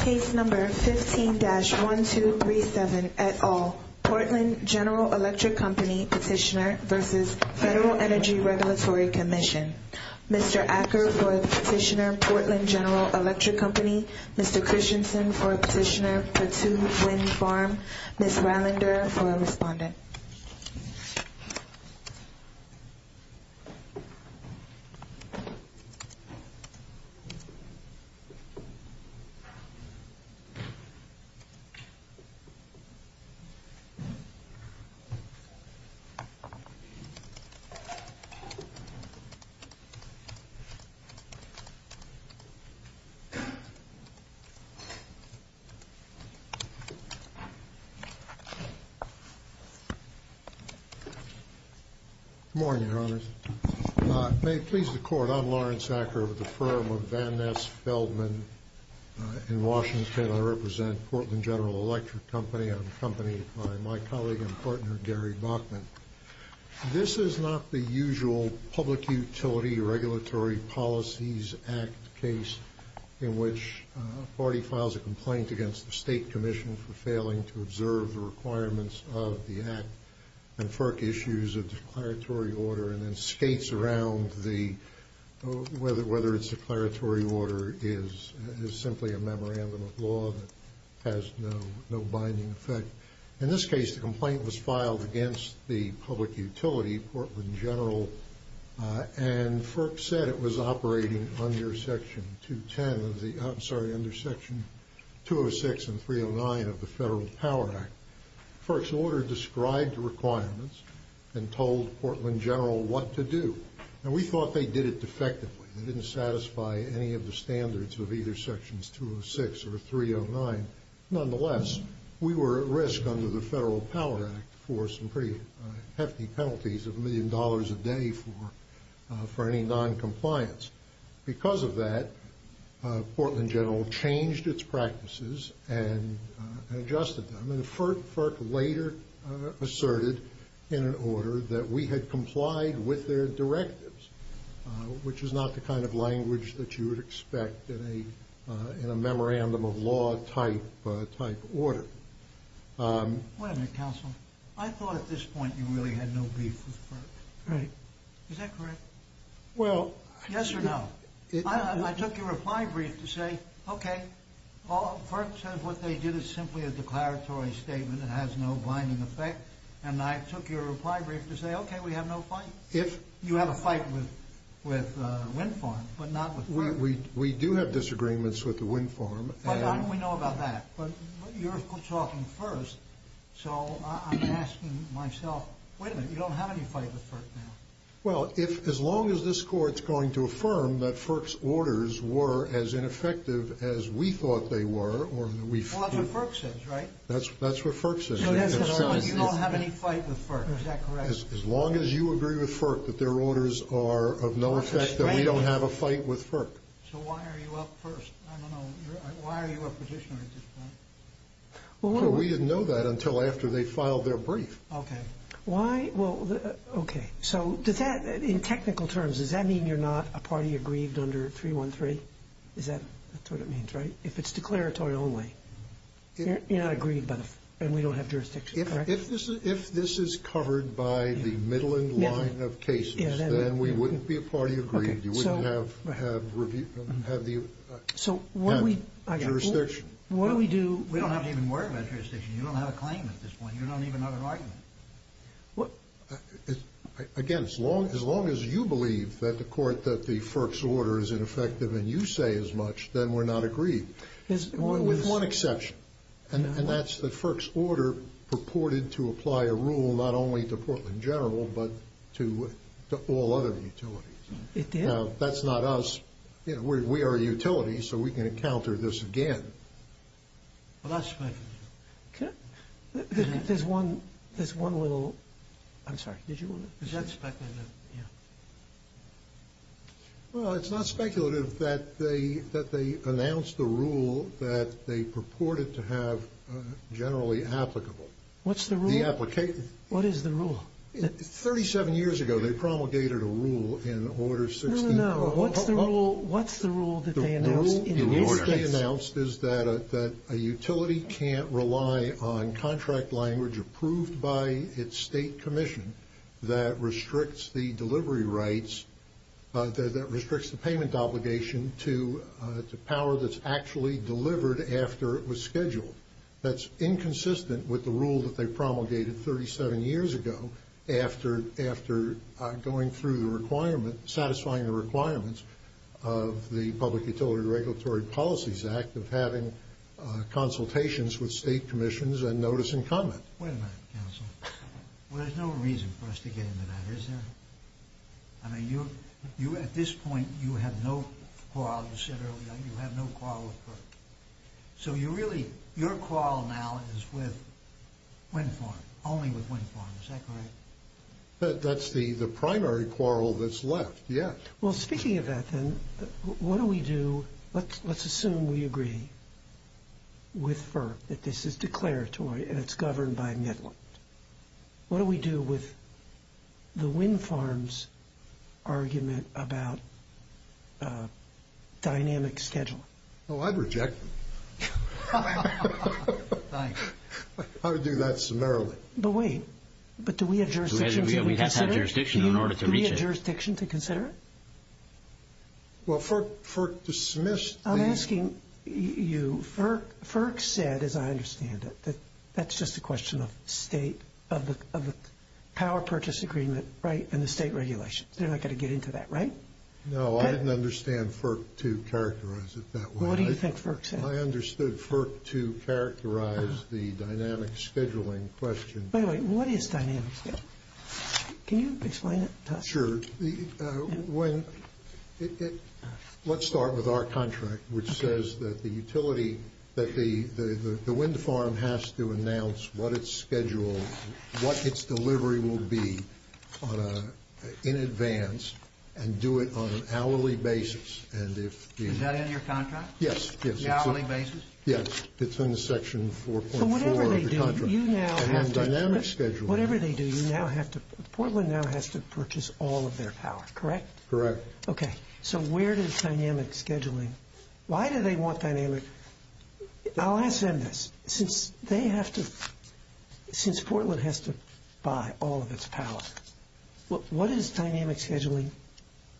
Case No. 15-1237, et al. Portland General Electric Company Petitioner v. Federal Energy Regulatory Commission. Mr. Acker for Petitioner, Portland General Electric Company. Mr. Christensen for Petitioner, Patuxent Wind Farm. Ms. Wallander for Respondent. Good morning, Your Honors. May it please the Court, I'm Lawrence Acker of the firm of Van Ness Feldman in Washington. I represent Portland General Electric Company. I'm accompanied by my colleague and partner, Gary Bachman. This is not the usual Public Utility Regulatory Policies Act case in which a party files a complaint against the State Commission for failing to observe the requirements of the Act and FERC issues a declaratory order and then skates around whether it's a declaratory order is simply a memorandum of law that has no binding effect. In this case, the complaint was filed against the public utility, Portland General, and FERC said it was operating under Section 210 of the, I'm sorry, under Section 206 and 309 of the Federal Power Act. FERC's order described the requirements and told Portland General what to do. And we thought they did it defectively. They didn't satisfy any of the standards of either Sections 206 or 309. Nonetheless, we were at risk under the Federal Power Act for some pretty hefty penalties of a million dollars a day for any noncompliance. Because of that, Portland General changed its practices and adjusted them. FERC later asserted in an order that we had complied with their directives, which is not the kind of language that you would expect in a memorandum of law type order. Wait a minute, counsel. I thought at this point you really had no beef with FERC. Right. Is that correct? Well... Yes or no? I took your reply brief to say, okay, FERC says what they did is simply a declaratory statement. It has no blinding effect. And I took your reply brief to say, okay, we have no fight. If you had a fight with Wind Farm, but not with FERC. We do have disagreements with the Wind Farm. We know about that. But you're talking first, so I'm asking myself, wait a minute, you don't have any fight with FERC now. Well, as long as this court is going to affirm that FERC's orders were as ineffective as we thought they were... Well, that's what FERC says, right? That's what FERC says. So you don't have any fight with FERC. Is that correct? As long as you agree with FERC that their orders are of no effect, then we don't have a fight with FERC. So why are you up first? I don't know. Why are you a petitioner at this point? Well, we didn't know that until after they filed their brief. Okay. Why? Well, okay. So does that, in technical terms, does that mean you're not a party agreed under 313? Is that what it means, right? If it's declaratory only. You're not agreed, and we don't have jurisdiction, correct? If this is covered by the Midland line of cases, then we wouldn't be a party agreed. You wouldn't have jurisdiction. What do we do? We don't have to even worry about jurisdiction. You don't have a claim at this point. You don't even have a right. Again, as long as you believe that the court, that the FERC's order is ineffective and you say as much, then we're not agreed. With one exception, and that's the FERC's order purported to apply a rule not only to Portland General, but to all other utilities. That's not us. We are utilities, so we can encounter this again. Well, that's speculative. There's one little, I'm sorry. Is that speculative? Well, it's not speculative that they announced the rule that they purported to have generally applicable. What's the rule? The application. What is the rule? Thirty-seven years ago, they promulgated a rule in Order 69. What's the rule that they announced? The rule that they announced is that a utility can't rely on contract language approved by its state commission that restricts the delivery rights, that restricts the payment obligation to power that's actually delivered after it was scheduled. That's inconsistent with the rule that they promulgated 37 years ago after going through the requirement, satisfying the requirements of the Public Utility Regulatory Policies Act of having consultations with state commissions and notice and comment. Wait a minute, Counselor. There's no reason for us to get into that, is there? I mean, at this point, you have no quarrel with FERC. So you really, your quarrel now is with Winform, only with Winform. Is that correct? That's the primary quarrel that's left, yes. Well, speaking of that, then, what do we do? Let's assume we agree with FERC that this is declaratory and it's governed by a midline. What do we do with the Winform's argument about dynamic schedule? Oh, I'd reject it. I would do that summarily. But wait. But do we have jurisdiction to consider it? Do we have jurisdiction to consider it? Well, FERC dismissed that. I'm asking you. FERC said, as I understand it, that that's just a question of state, of the Power Purchase Agreement, right, and the state regulations. They're not going to get into that, right? No, I didn't understand FERC to characterize it that way. Well, what do you think FERC said? I understood FERC to characterize the dynamic scheduling question. By the way, what is dynamic schedule? Can you explain it to us? Sure. Let's start with our contract, which says that the utility, that the Winform has to announce what its schedule, what its delivery will be in advance and do it on an hourly basis. Is that in your contract? Yes, yes. Yes, it's in the Section 4.4 of the contract. So whatever they do, you now have to – Dynamic scheduling. Whatever they do, you now have to – Portland now has to purchase all of their power, correct? Correct. Okay. So where does dynamic scheduling – why do they want dynamic – I'll ask them this. Since they have to – since Portland has to buy all of its power, what is dynamic scheduling?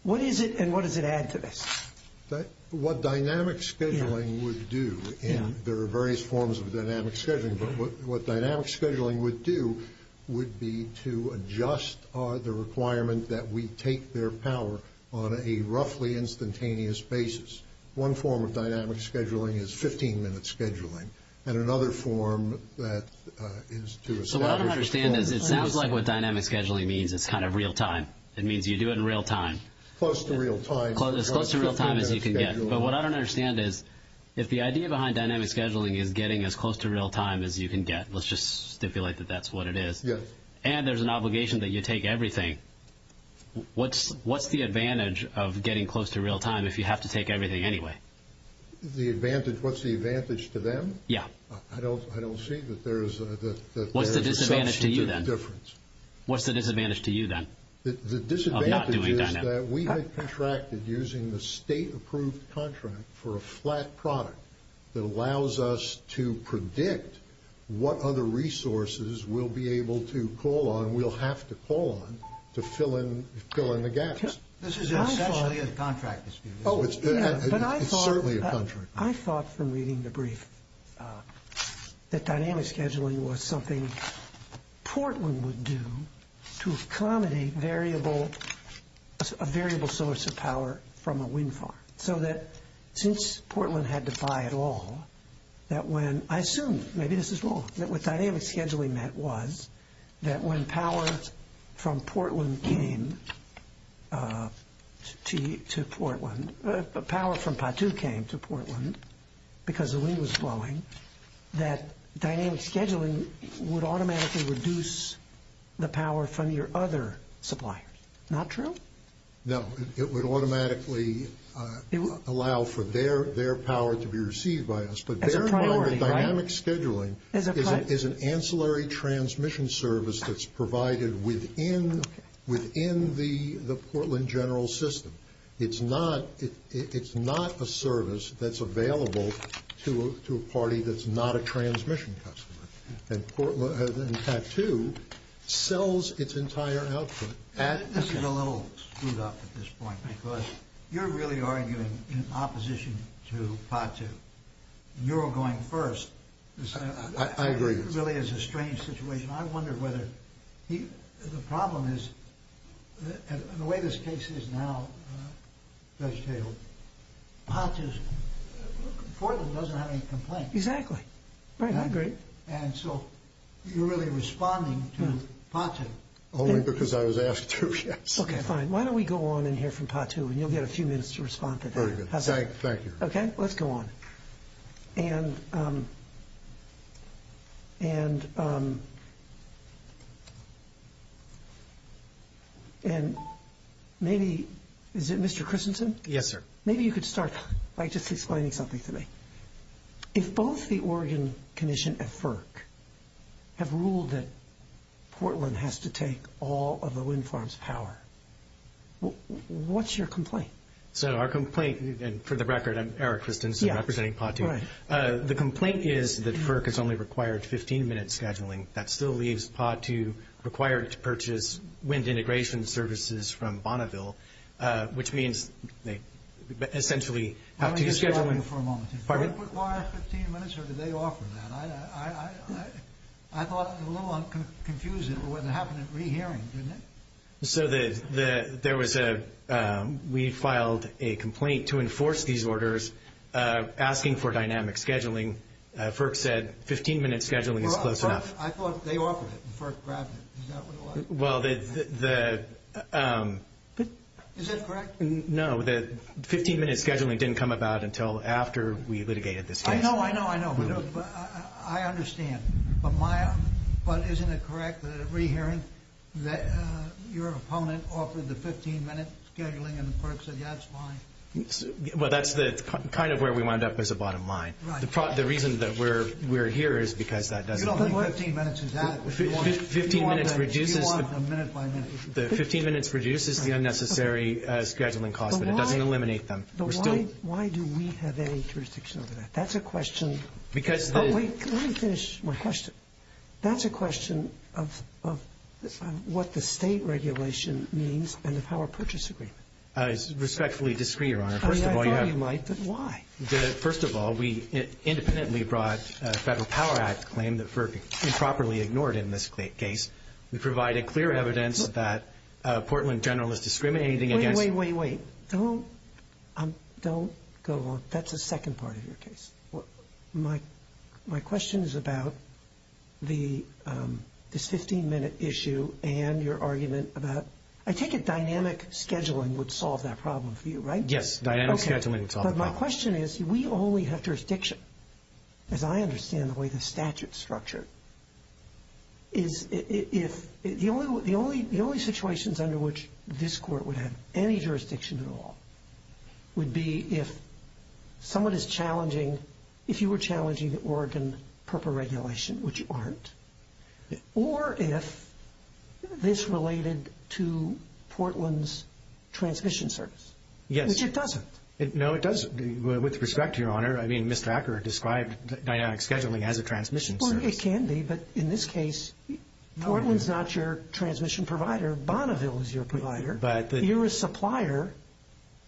What is it and what does it add to it? What dynamic scheduling would do, and there are various forms of dynamic scheduling, but what dynamic scheduling would do would be to adjust the requirement that we take their power on a roughly instantaneous basis. One form of dynamic scheduling is 15-minute scheduling, and another form that is to establish – So what I don't understand is it's not what dynamic scheduling means. It's kind of real-time. It means you do it in real-time. Close to real-time. As close to real-time as you can get. But what I don't understand is if the idea behind dynamic scheduling is getting as close to real-time as you can get, let's just stipulate that that's what it is, and there's an obligation that you take everything, what's the advantage of getting close to real-time if you have to take everything anyway? The advantage – what's the advantage to them? Yeah. I don't see that there is – What's the disadvantage to you then? What's the disadvantage to you then? The disadvantage is that we have contracted using the state-approved contract for a flat product that allows us to predict what other resources we'll be able to call on, we'll have to call on, to fill in the gaps. This is essentially a contract. It's certainly a contract. I thought from reading the brief that dynamic scheduling was something Portland would do to accommodate variable – power from a wind farm, so that since Portland had to buy it all, that when – I assume, maybe this is wrong, that with dynamic scheduling that was, that when power from Portland came to Portland – power from Patu came to Portland because the wind was blowing, that dynamic scheduling would automatically reduce the power from your other suppliers. Not true? No. It would automatically allow for their power to be received by us, but their dynamic scheduling is an ancillary transmission service that's provided within the Portland general system. It's not a service that's available to a party that's not a transmission customer. And Patu sells its entire output. This is a little screwed up at this point, because you're really arguing in opposition to Patu. You're going first. I agree. This really is a strange situation. I wonder whether – the problem is, the way this case is now, Judge Cable, Portland doesn't have any complaints. Exactly. I agree. And so you're really responding to Patu. Only because I was asked to. Okay, fine. Why don't we go on and hear from Patu, and you'll get a few minutes to respond to that. Very good. Thank you. Okay, let's go on. And maybe – is it Mr. Christensen? Yes, sir. Maybe you could start by just explaining something to me. If both the Oregon Commission and FERC have ruled that Portland has to take all of the wind farms' power, what's your complaint? So our complaint – and for the record, I'm Eric Christensen representing Patu. The complaint is that FERC has only required 15-minute scheduling. That still leaves Patu required to purchase wind integration services from Bonneville, which means they essentially have to use scheduling. Let me just say something for a moment. FERC requires 15 minutes or do they offer that? I thought it was a little confusing for what happened at re-hearing, didn't it? So there was a – we filed a complaint to enforce these orders asking for dynamic scheduling. FERC said 15-minute scheduling was close enough. I thought they offered it, and FERC grabbed it. Well, the – Is that correct? No, the 15-minute scheduling didn't come about until after we litigated this case. I know, I know, I know. I understand. But isn't it correct that at re-hearing that your opponent offered the 15-minute scheduling, and FERC said that's fine? Well, that's kind of where we wound up as the bottom line. The reason that we're here is because that doesn't work. You don't think 15 minutes is adequate? The 15-minute reduces the unnecessary scheduling cost, but it doesn't eliminate them. Why do we have any jurisdiction over that? That's a question. Let me finish my question. That's a question of what the state regulation means and the Power Purchase Agreement. It's respectfully discreet, Your Honor. I thought you might, but why? First of all, we independently brought a Federal Power Act claim that FERC improperly ignored in this case. We provided clear evidence that Portland General is discriminating against... Wait, wait, wait. Don't go on. That's the second part of your case. My question is about this 15-minute issue and your argument about... I take it dynamic scheduling would solve that problem for you, right? Yes, dynamic scheduling would solve the problem. But my question is, we only have jurisdiction. As I understand the way the statute is structured, the only situations under which this court would have any jurisdiction at all would be if someone is challenging, if you were challenging Oregon proper regulation, which you aren't, or if this related to Portland's transmission service, which it doesn't. No, it doesn't. With respect, Your Honor, I mean, Ms. Tracker described dynamic scheduling as a transmission service. It can be, but in this case, Portland is not your transmission provider. Bonneville is your provider. You're a supplier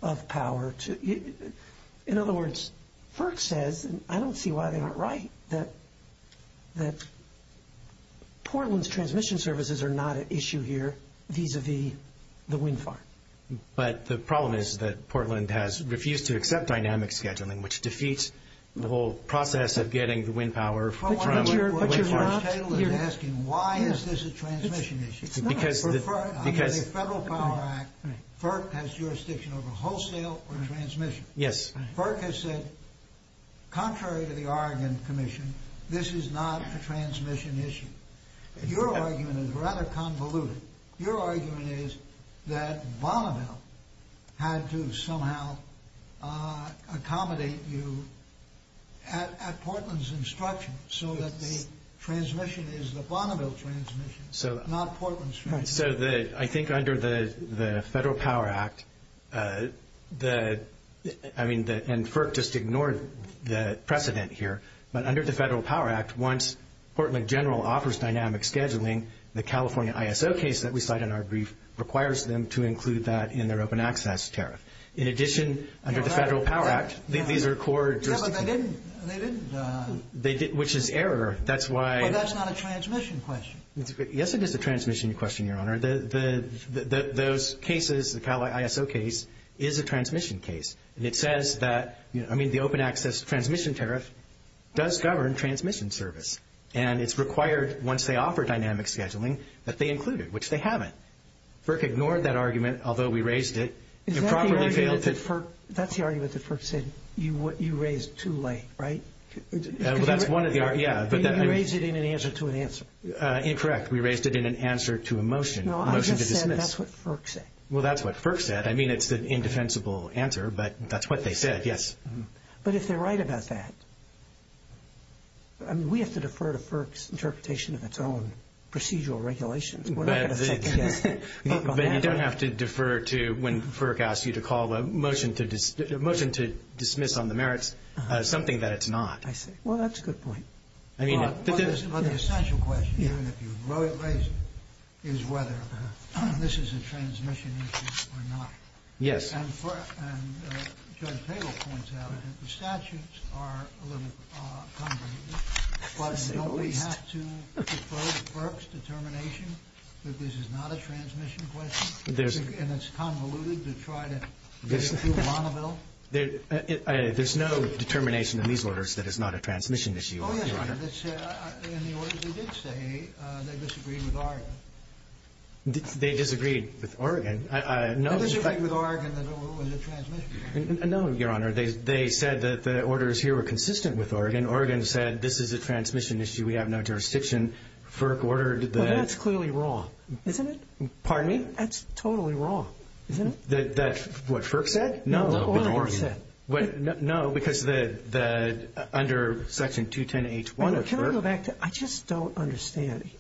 of power to... In other words, FERC says, and I don't see why they're not right, that Portland's transmission services are not an issue here vis-à-vis the wind farm. But the problem is that Portland has refused to accept dynamic scheduling, which defeats the whole process of getting the wind power from... But you're not... I'm asking, why is this a transmission issue? Because... Under the Federal Farm Act, FERC has jurisdiction over wholesale or transmission. Yes. FERC has said, contrary to the Oregon Commission, this is not a transmission issue. Your argument is rather convoluted. Your argument is that Bonneville had to somehow accommodate you at Portland's instruction, so that the transmission is the Bonneville transmission, not Portland's transmission. I think under the Federal Power Act, I mean, and FERC just ignored the precedent here, but under the Federal Power Act, once Portland General offers dynamic scheduling, the California ISO case that we cite in our brief requires them to include that in their open access tariff. In addition, under the Federal Power Act, these are core jurisdictions. But they didn't. They didn't. Which is error. That's why... So that's not a transmission question. Yes, it is a transmission question, Your Honor. Those cases, the Cal ISO case, is a transmission case. And it says that, I mean, the open access transmission tariff does govern transmission service. And it's required, once they offer dynamic scheduling, that they include it, which they haven't. FERC ignored that argument, although we raised it. That's the argument that FERC said, you raised too late, right? Well, that's one of the arguments, yeah. You raised it in an answer to an answer. Incorrect. We raised it in an answer to a motion. No, I just said that's what FERC said. Well, that's what FERC said. I mean, it's an indefensible answer, but that's what they said, yes. But if they're right about that, I mean, we have to defer to FERC's interpretation of its own procedural regulations. But you don't have to defer to when FERC asks you to call a motion to dismiss on the merits something that it's not. I see. Well, that's a good point. The essential question, even if you wrote it, is whether this is a transmission issue or not. Yes. And Fred Fable points out that the statutes are a little convoluted. Why, don't we have to defer to FERC's determination that this is not a transmission question? And it's convoluted to try to get through Bonneville? There's no determination in these orders that it's not a transmission issue, Your Honor. Oh, yes. In the order they did say, they disagreed with Oregon. They disagreed with Oregon? No, Your Honor. They said that the orders here were consistent with Oregon. Oregon said, this is a transmission issue. We have no jurisdiction. FERC ordered that. Well, that's clearly wrong, isn't it? Pardon me? That's totally wrong, isn't it? That's what FERC said? No, no. What Oregon said. No, because under Section 210H1 of FERC. I just don't understand.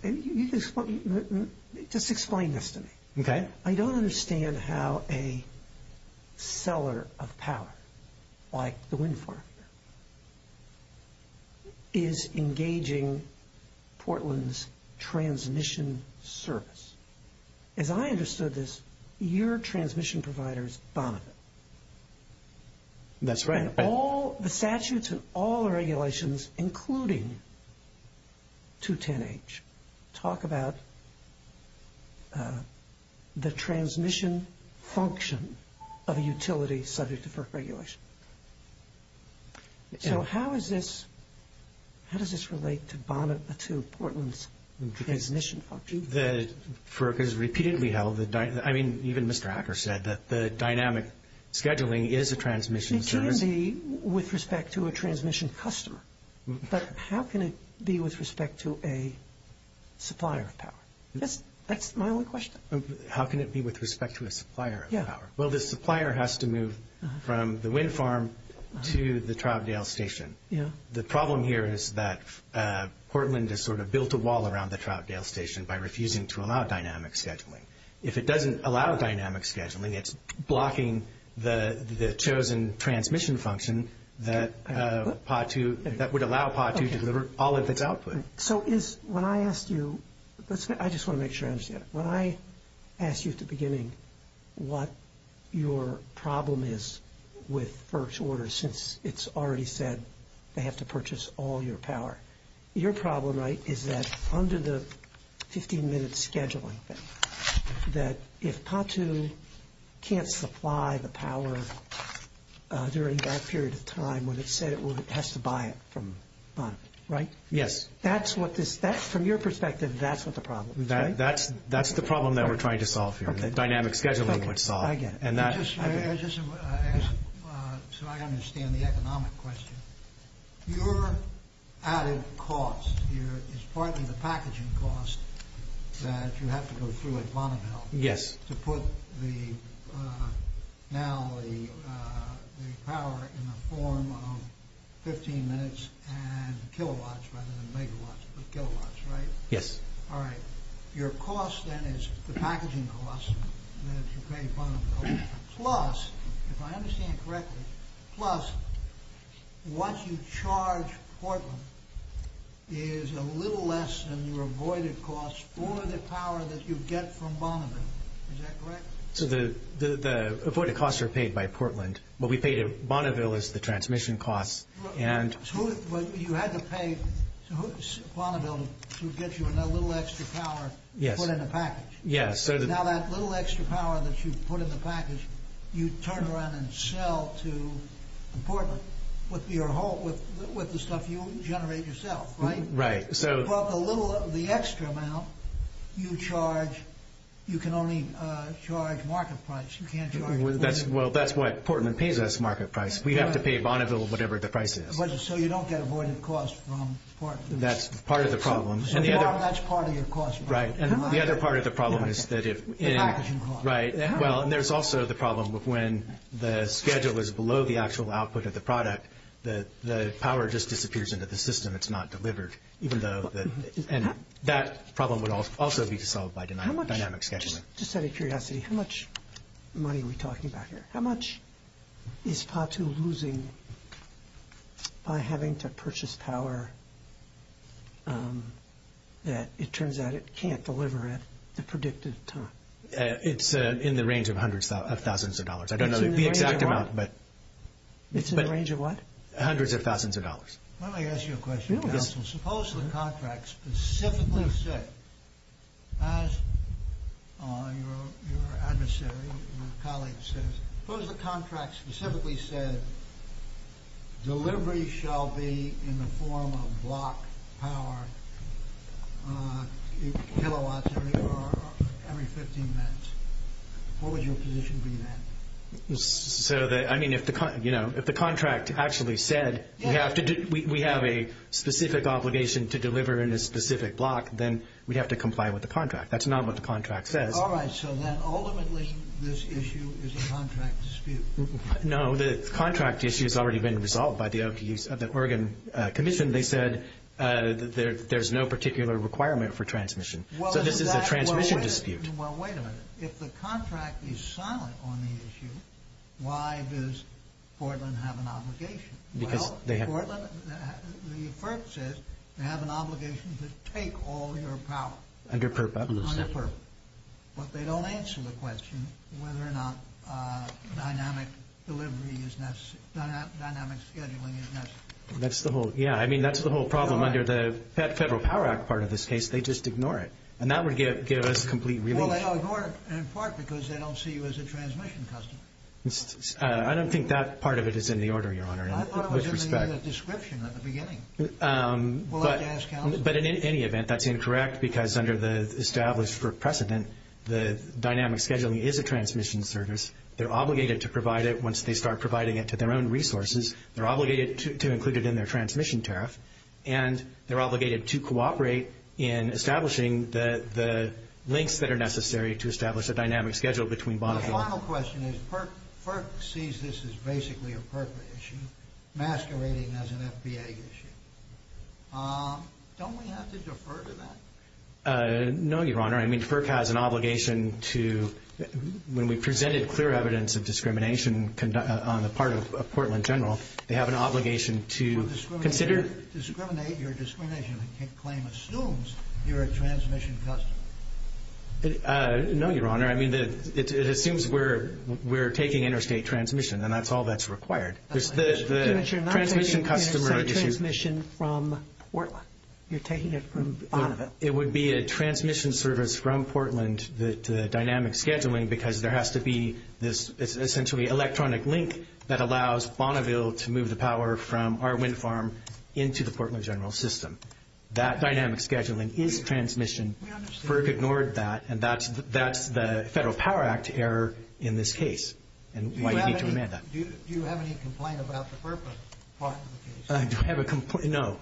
Just explain this to me. Okay. I don't understand. I don't understand how a seller of power, like the wind farm, is engaging Portland's transmission service. As I understood this, your transmission providers, Bonneville. That's right. And all the statutes and all the regulations, including 210H, talk about the transmission function of a utility subject to FERC regulation. So how does this relate to Portland's transmission function? FERC is repeatedly held. I mean, even Mr. Hacker said that the dynamic scheduling is a transmission service. It can be with respect to a transmission customer. But how can it be with respect to a supplier of power? That's my only question. How can it be with respect to a supplier of power? Well, the supplier has to move from the wind farm to the Troutdale Station. The problem here is that Portland has sort of built a wall around the Troutdale Station by refusing to allow dynamic scheduling. If it doesn't allow dynamic scheduling, it's blocking the chosen transmission function that would allow PAW-II to deliver all of its output. So when I ask you, I just want to make sure I understand. When I asked you at the beginning what your problem is with FERC's orders, since it's already said they have to purchase all your power, your problem is that under the 15-minute scheduling, that if PAW-II can't supply the power during that period of time, when it said it would, it has to buy it, right? Yes. That's what this – from your perspective, that's what the problem is, right? That's the problem that we're trying to solve here. Dynamic scheduling is what's solved. I get it. And that's – I just – so I understand the economic question. Your added cost here is part of the packaging cost that you have to go through at Bonneville to put the – now the power in the form of 15 minutes and kilowatts rather than megawatts, but kilowatts, right? Yes. All right. Your cost then is the packaging cost to create Bonneville, plus, if I understand correctly, plus what you charge Portland is a little less than your avoided cost for the power that you get from Bonneville. Is that correct? So the avoided costs are paid by Portland. What we paid at Bonneville is the transmission costs, and – So you had to pay Bonneville to get you that little extra power put in the package. Yes. Now that little extra power that you put in the package, you turn around and sell to Portland with your whole – with the stuff you generate yourself, right? Right. So – Well, the little – the extra amount you charge, you can only charge market price. You can't charge – Well, that's what – Portland pays us market price. We have to pay Bonneville whatever the price is. So you don't get avoided costs from Portland. That's part of the problem. That's part of your cost. Right. And the other part of the problem is that if – That's part of your cost. Right. Well, and there's also the problem of when the schedule is below the actual output of the product, the power just disappears into the system. It's not delivered, even though – And that problem would also be solved by dynamic scheduling. Just out of curiosity, how much money are we talking about here? How much is KOTU losing by having to purchase power that it turns out it can't deliver at the predicted time? It's in the range of hundreds of thousands of dollars. I don't know the exact amount, but – It's in the range of what? Hundreds of thousands of dollars. Let me ask you a question. Suppose the contract specifically said, as your adversary, your colleague says, suppose the contract specifically said, delivery shall be in the form of block power kilowatts every 15 minutes. What would your position be on that? I mean, if the contract actually said we have a specific obligation to deliver in a specific block, then we have to comply with the contract. That's not what the contract says. All right. So then ultimately this issue is a contract dispute. No, the contract issue has already been resolved by the Oregon Commission. They said there's no particular requirement for transmission. So this is a transmission dispute. Well, wait a minute. If the contract is silent on the issue, why does Portland have an obligation? Well, Portland, the court says, they have an obligation to take all your power. Under current buttons. Under current. But they don't answer the question whether or not dynamic scheduling is necessary. Yeah, I mean, that's the whole problem under the Federal Power Act part of this case. They just ignore it. And that would give us complete relief. Well, they don't ignore it in part because they don't see you as a transmission customer. I don't think that part of it is in the order, Your Honor, with respect. I thought it was in the description at the beginning. But in any event, that's incorrect because under the established precedent, the dynamic scheduling is a transmission service. They're obligated to provide it once they start providing it to their own resources. They're obligated to include it in their transmission tariff. And they're obligated to cooperate in establishing the links that are necessary to establish a dynamic schedule between bondholders. My final question is, FERC sees this as basically a FERC issue, masquerading as an FBA issue. Don't we have to defer to that? No, Your Honor. I mean, FERC has an obligation to, when we presented clear evidence of discrimination on the part of Portland General, they have an obligation to consider. To discriminate your discrimination claim assumes you're a transmission customer. No, Your Honor. I mean, it assumes we're taking interstate transmission, and that's all that's required. The transmission customer issue. You're taking it from out of it. It would be a transmission service from Portland to the dynamic scheduling because there has to be this essentially electronic link that allows Bonneville to move the power from our wind farm into the Portland General system. That dynamic scheduling is transmission. FERC ignored that, and that's the Federal Power Act error in this case. Do you have any complaint about the FERC? No.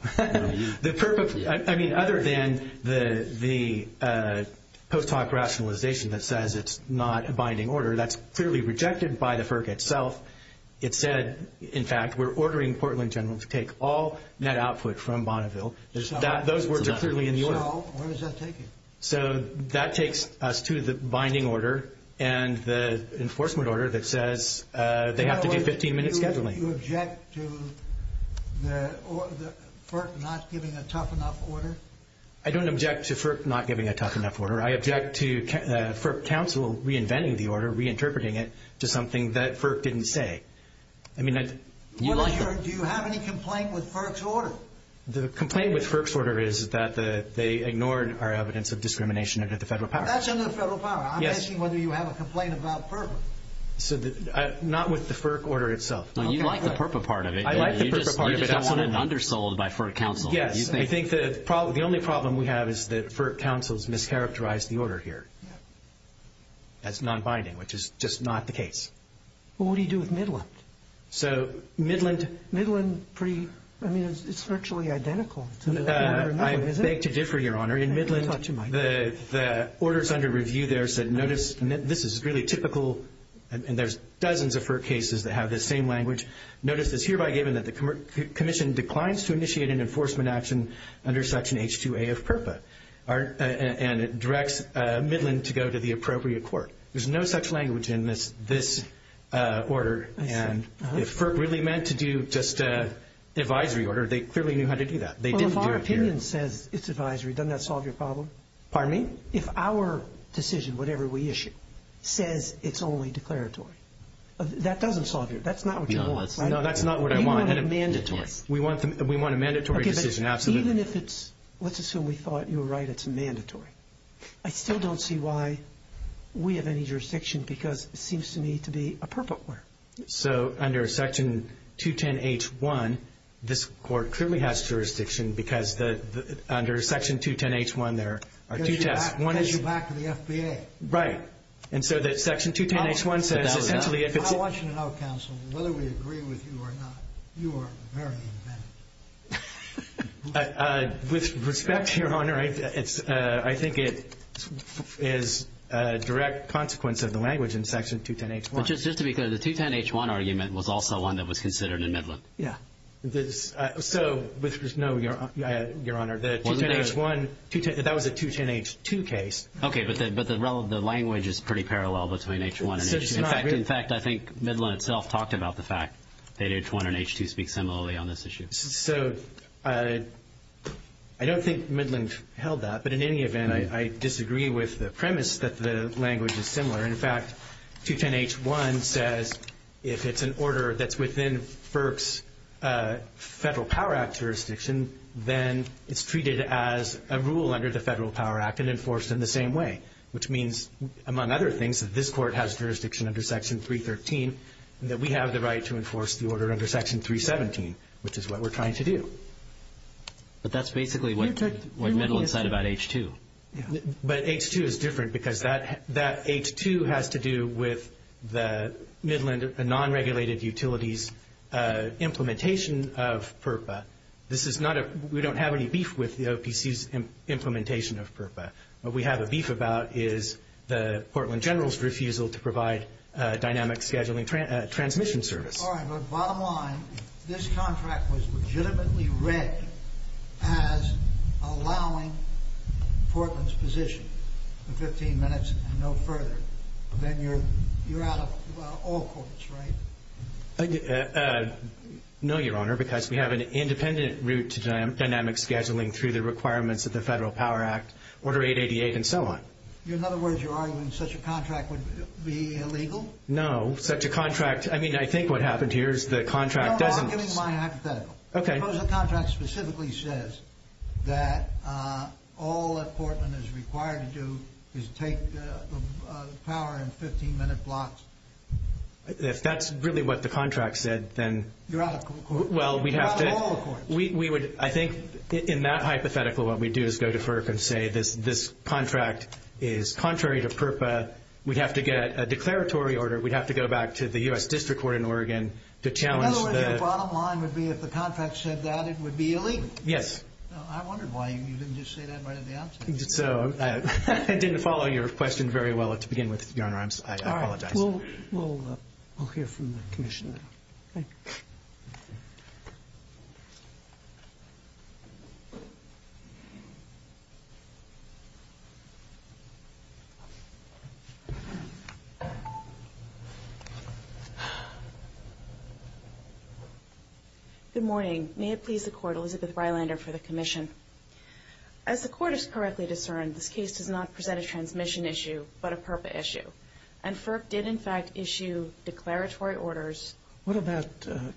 I mean, other than the post hoc rationalization that says it's not a binding order, that's clearly rejected by the FERC itself. It said, in fact, we're ordering Portland General to take all net output from Bonneville. Those words are clearly in the order. So, where does that take you? So, that takes us to the binding order and the enforcement order that says they have to get 15-minute scheduling. Do you object to the FERC not giving a tough enough order? I don't object to FERC not giving a tough enough order. I object to FERC counsel reinventing the order, reinterpreting it to something that FERC didn't say. Do you have any complaint with FERC's order? The complaint with FERC's order is that they ignored our evidence of discrimination under the Federal Power Act. That's under the Federal Power Act. I'm asking whether you have a complaint about FERC. Not with the FERC order itself. You like the FERPA part of it. I like the FERPA part of it. You just want it underscored by FERC counsel. Yes. I think the only problem we have is that FERC counsel has mischaracterized the order here as non-binding, which is just not the case. What do you do with Midland? So, Midland. Midland, I mean, it's virtually identical. I beg to differ, Your Honor. In Midland, the order's under review there. So, notice this is really typical, and there's dozens of FERC cases that have this same language. Notice it's hereby given that the commission declines to initiate an enforcement action under Section H2A of FERPA, and it directs Midland to go to the appropriate court. There's no such language in this order, and if FERP really meant to do just an advisory order, they clearly knew how to do that. So, if our opinion says it's advisory, doesn't that solve your problem? Pardon me? If our decision, whatever we issue, says it's only declaratory, that doesn't solve your problem. That's not what you want, right? No, that's not what I want. We want it mandatory. We want a mandatory decision, absolutely. Okay, but even if it's, let's assume we thought you were right, it's mandatory, I still don't see why we have any jurisdiction because it seems to me to be a FERPA order. So, under Section 210H1, this court clearly has jurisdiction because under Section 210H1 there are two types. Because you're back to the FBA. Right. And so that Section 210H1 says essentially if it's... I want you to know, counsel, whether we agree with you or not, you are a very good judge. With respect, Your Honor, I think it is a direct consequence of the language in Section 210H1. Just to be clear, the 210H1 argument was also one that was considered in Midland. Yeah. So, which was no, Your Honor, the 210H1, that was a 210H2 case. Okay, but the language is pretty parallel between H1 and H2. In fact, I think Midland itself talked about the fact that H1 and H2 speak similarly on this issue. So, I don't think Midland held that, but in any event, I disagree with the premise that the language is similar. In fact, 210H1 says if it's an order that's within FERC's Federal Power Act jurisdiction, then it's treated as a rule under the Federal Power Act and enforced in the same way, which means, among other things, that this court has jurisdiction under Section 313 and that we have the right to enforce the order under Section 317, which is what we're trying to do. But that's basically what Midland said about H2. But H2 is different because that H2 has to do with the Midland non-regulated utilities implementation of FERPA. This is not a – we don't have any beef with the OPC's implementation of FERPA. What we have a beef about is the Portland General's refusal to provide dynamic scheduling transmission service. All right, but bottom line, this contract was legitimately read as allowing Portland's position for 15 minutes and no further. Then you're out of all courts, right? No, Your Honor, because we have an independent route to dynamic scheduling through the requirements of the Federal Power Act, Order 888, and so on. In other words, you're arguing such a contract would be illegal? No, such a contract – I mean, I think what happened here is the contract doesn't – I'll give you my hypothetical. Okay. Suppose the contract specifically says that all that Portland is required to do is take power in 15-minute blocks. If that's really what the contract said, then – You're out of all courts. I think in that hypothetical, what we'd do is go to FERPA and say this contract is contrary to FERPA. We'd have to get a declaratory order. We'd have to go back to the U.S. District Court in Oregon to challenge the – The bottom line would be if the contract said that, it would be illegal? Yes. I wonder why you didn't just say that right at the outset. I didn't follow your question very well to begin with, Your Honor. I apologize. All right. We'll hear from the Commissioner. Thank you. Good morning. May it please the Court, Elizabeth Freilander for the Commission. As the Court has correctly discerned, this case does not present a transmission issue but a FERPA issue. And FERPA did, in fact, issue declaratory orders. What about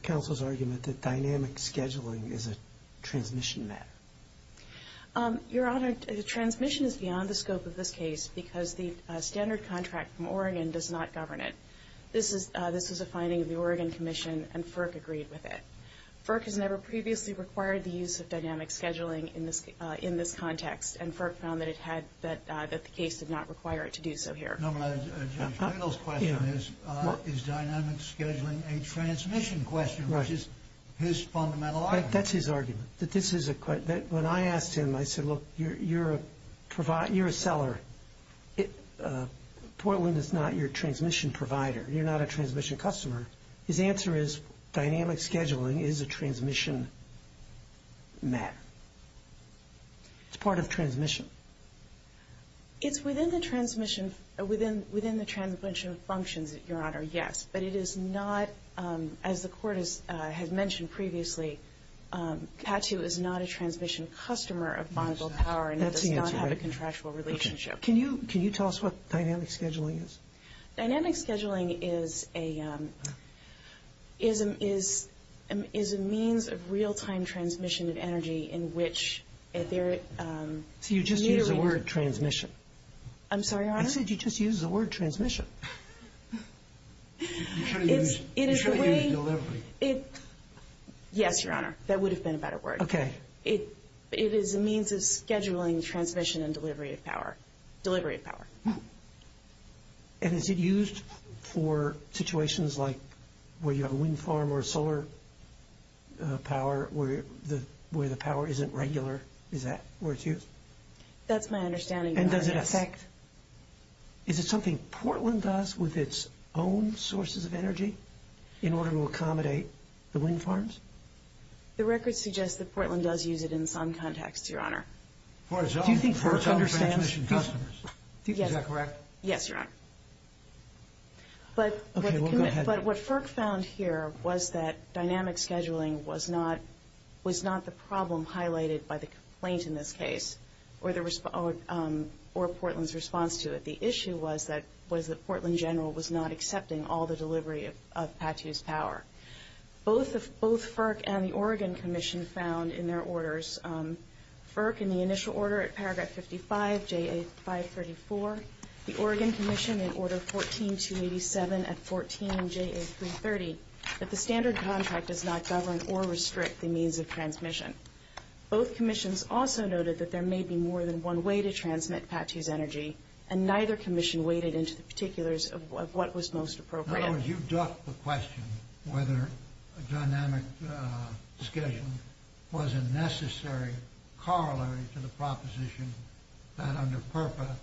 counsel's argument that dynamic scheduling is a transmission matter? Your Honor, transmission is beyond the scope of this case because the standard contract from Oregon does not govern it. This is a finding of the Oregon Commission, and FERPA agreed with it. FERPA has never previously required the use of dynamic scheduling in this context, and FERPA found that the case does not require it to do so here. My final question is, is dynamic scheduling a transmission question, which is his fundamental argument? That's his argument. When I asked him, I said, look, you're a seller. Portland is not your transmission provider. You're not a transmission customer. His answer is dynamic scheduling is a transmission matter. It's part of transmission. It's within the transmission functions, Your Honor, yes. But it is not, as the Court has mentioned previously, TATU is not a transmission customer of Bonneville Power, and there's not a contractual relationship. Can you tell us what dynamic scheduling is? Dynamic scheduling is a means of real-time transmission of energy in which there is immediately You just used the word transmission. I'm sorry, Your Honor? I said you just used the word transmission. You shouldn't have used delivery. Yes, Your Honor. That would have been a better word. Okay. It is a means of scheduling transmission and delivery of power. And is it used for situations like where you have a wind farm or solar power where the power isn't regular? Is that where it's used? That's my understanding, Your Honor. And does it affect? Is it something Portland does with its own sources of energy in order to accommodate the wind farms? The record suggests that Portland does use it in some contexts, Your Honor. Do you think FERC understands transmission customers? Yes. Is that correct? Yes, Your Honor. But what FERC found here was that dynamic scheduling was not the problem highlighted by the complaint in this case or Portland's response to it. The issue was that Portland General was not accepting all the delivery of TATU's power. Both FERC and the Oregon Commission found in their orders, FERC in the initial order at paragraph 55, J.A. 534, the Oregon Commission in order 14, 287 at 14, J.A. 330, that the standard contract does not govern or restrict the means of transmission. Both commissions also noted that there may be more than one way to transmit TATU's energy, and neither commission weighted into the particulars of what was most appropriate. In other words, you've ducked the question whether dynamic scheduling was a necessary corollary to the proposition that under PERPA,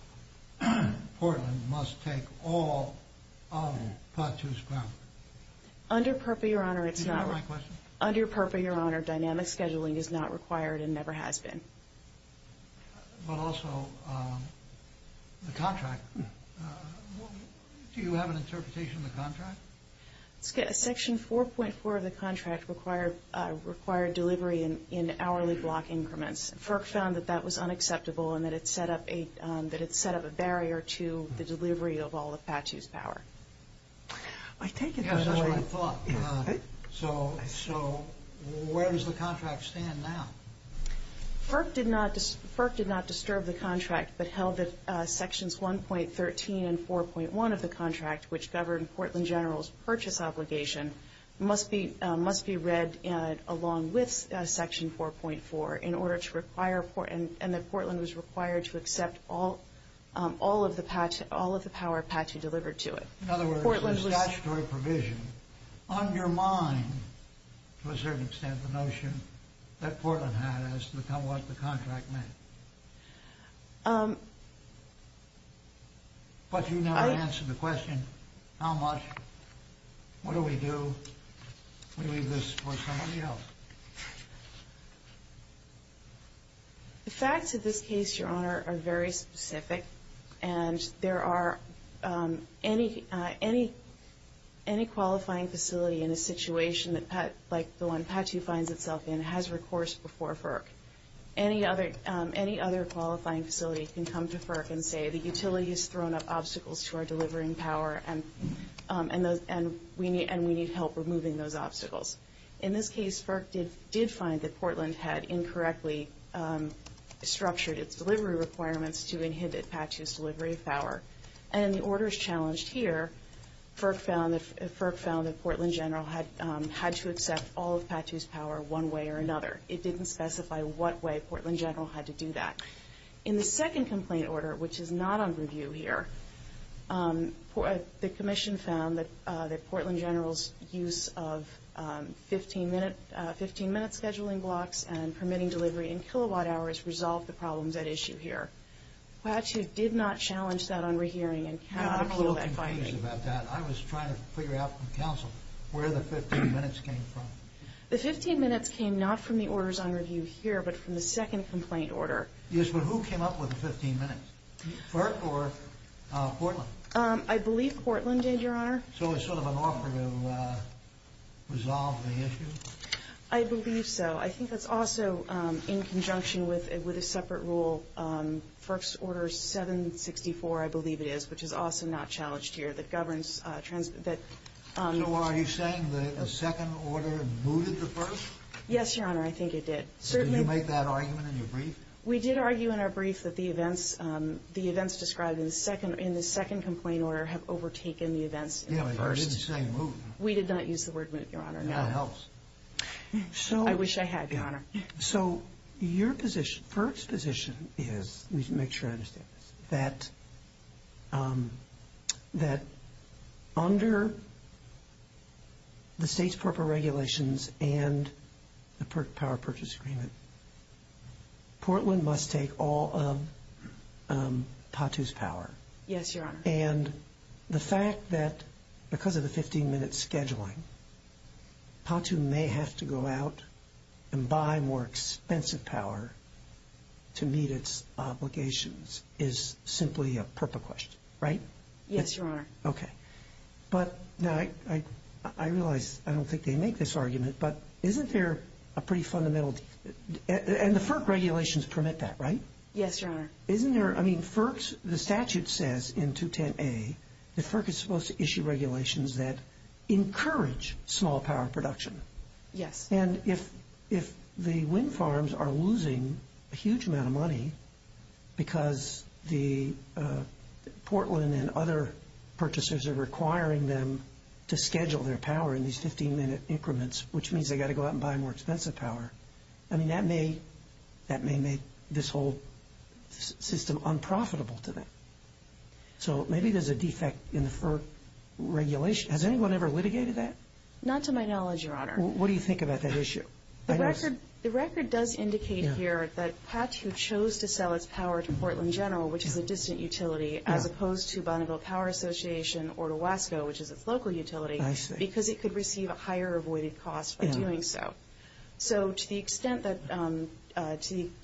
Portland must take all of TATU's power. Under PERPA, Your Honor, it's not. Is that the right question? Under PERPA, Your Honor, dynamic scheduling is not required and never has been. But also, the contract, do you have an interpretation of the contract? Section 4.4 of the contract required delivery in hourly block increments. FERC found that that was unacceptable and that it set up a barrier to the delivery of all of TATU's power. I take it that's what you thought. So where does the contract stand now? FERC did not disturb the contract but held that Sections 1.13 and 4.1 of the contract, which governed Portland General's purchase obligation, must be read along with Section 4.4 and that Portland was required to accept all of the power of TATU delivered to it. In other words, the statutory provision undermined, to a certain extent, the notion that Portland had as to what the contract meant. But you never answered the question, how much? What do we do? We leave this for somebody else. The facts of this case, Your Honor, are very specific and there are any qualifying facility in a situation like the one TATU finds itself in has recourse before FERC. Any other qualifying facility can come to FERC and say, the utility has thrown up obstacles to our delivering power and we need help removing those obstacles. In this case, FERC did find that Portland had incorrectly structured its delivery requirements to inhibit TATU's delivery of power. And the orders challenged here, FERC found that Portland General had to accept all of TATU's power one way or another. It didn't specify what way Portland General had to do that. In the second complaint order, which is not on review here, the Commission found that Portland General's use of 15-minute scheduling blocks and permitting delivery in kilowatt hours resolved the problems at issue here. TATU did not challenge that on re-hearing. I'm a little confused about that. I was trying to figure out from counsel where the 15 minutes came from. The 15 minutes came not from the orders on review here, but from the second complaint order. Yes, but who came up with the 15 minutes? FERC or Portland? I believe Portland did, Your Honor. So it's sort of an offer to resolve the issue? I believe so. I think it's also in conjunction with a separate rule, FERC's Order 764, I believe it is, which is also not challenged here, that governs... So are you saying that a second order mooted the first? Yes, Your Honor, I think it did. Did you make that argument in the brief? We did argue in our brief that the events described in the second complaint order have overtaken the events in the first. We did not use the word moot, Your Honor. That helps. I wish I had, Your Honor. So your position, FERC's position is, we need to make sure I understand this, that under the state's FERPA regulations and the FERC Power Purchase Agreement, Portland must take all of PATU's power. Yes, Your Honor. And the fact that because of the 15-minute scheduling, PATU may have to go out and buy more expensive power to meet its obligations is simply a FERPA question, right? Yes, Your Honor. Okay. But I realize I don't think they make this argument, but isn't there a pretty fundamental... And the FERP regulations permit that, right? Yes, Your Honor. Isn't there, I mean, the statute says in 210A, the FERP is supposed to issue regulations that encourage small power production. Yes. And if the wind farms are losing a huge amount of money because Portland and other purchasers are requiring them to schedule their power in these 15-minute increments, which means they've got to go out and buy more expensive power, I mean, that may make this whole system unprofitable to them. So maybe there's a defect in the FERP regulation. Has anyone ever litigated that? Not to my knowledge, Your Honor. What do you think about that issue? The record does indicate here that PATU chose to sell its power to Portland General, which is a distant utility, as opposed to Bonneville Power Association or to Wasco, which is a local utility, because it could receive a higher avoided cost by doing so. So to the extent that PATU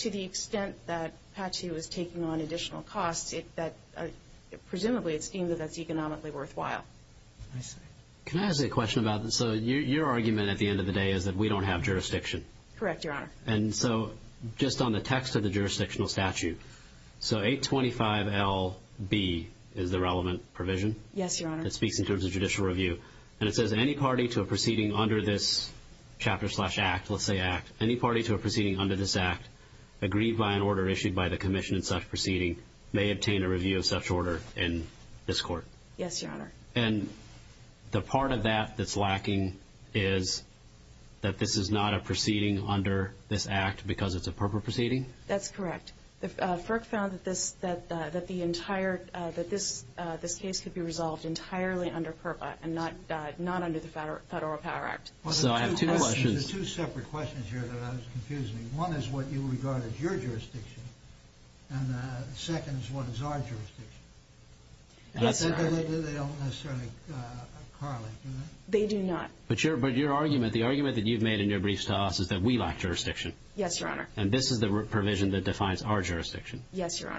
is taking on additional costs, presumably it's deemed that that's economically worthwhile. Can I ask a question about this? So your argument at the end of the day is that we don't have jurisdiction. Correct, Your Honor. And so just on the text of the jurisdictional statute, so 825LB is the relevant provision? Yes, Your Honor. It speaks in terms of judicial review. And it says that any party to a proceeding under this chapter slash act, let's say act, any party to a proceeding under this act, agreed by an order issued by the commission in such proceeding, may obtain a review of such order in this court. Yes, Your Honor. And the part of that that's lacking is that this is not a proceeding under this act because it's a FERPA proceeding? That's correct. FERPA found that this case could be resolved entirely under FERPA and not under the Federal Power Act. So I have two questions. There's two separate questions here that I was confusing. One is what you regard as your jurisdiction, and the second is what is our jurisdiction. They don't necessarily correlate, do they? They do not. But your argument, the argument that you've made in your briefs to us, is that we lack jurisdiction. Yes, Your Honor. And this is the provision that defines our jurisdiction? Yes, Your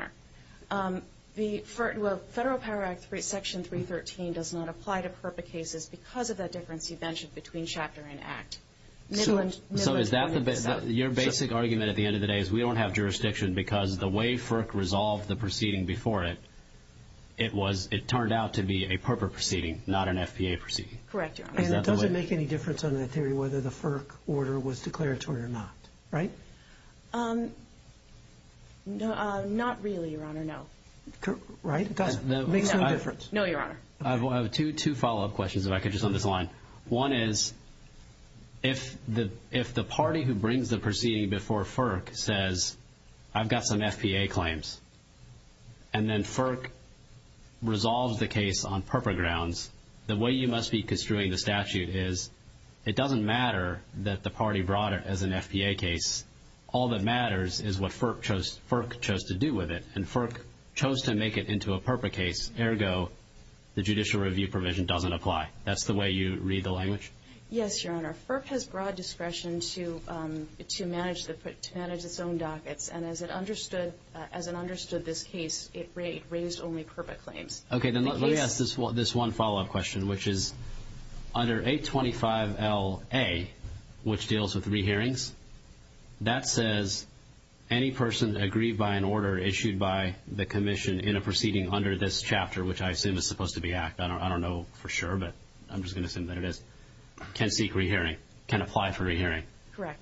Honor. The Federal Power Act Section 313 does not apply to FERPA cases because of the difference you've mentioned between chapter and act. So is that your basic argument at the end of the day is we don't have jurisdiction because the way FERPA resolved the proceeding before it, it turned out to be a FERPA proceeding, not an FPA proceeding? Correct, Your Honor. And it doesn't make any difference under the theory whether the FERPA order was declaratory or not, right? Not really, Your Honor, no. Right. It makes no difference. No, Your Honor. I have two follow-up questions if I could just underline. One is if the party who brings the proceeding before FERC says I've got some FPA claims and then FERC resolves the case on FERPA grounds, the way you must be construing the statute is it doesn't matter that the party brought it as an FPA case. All that matters is what FERC chose to do with it, and FERC chose to make it into a FERPA case. Ergo, the judicial review provision doesn't apply. That's the way you read the language? Yes, Your Honor. FERC has broad discretion to manage its own dockets, and as it understood this case, it raised only FERPA claims. Okay. Then let me ask this one follow-up question, which is under 825LA, which deals with re-hearings, that says any person agreed by an order issued by the commission in a proceeding under this chapter, which I assume is supposed to be ACT. I don't know for sure, but I'm just going to assume that it is, can speak re-hearing, can apply for re-hearing. Correct.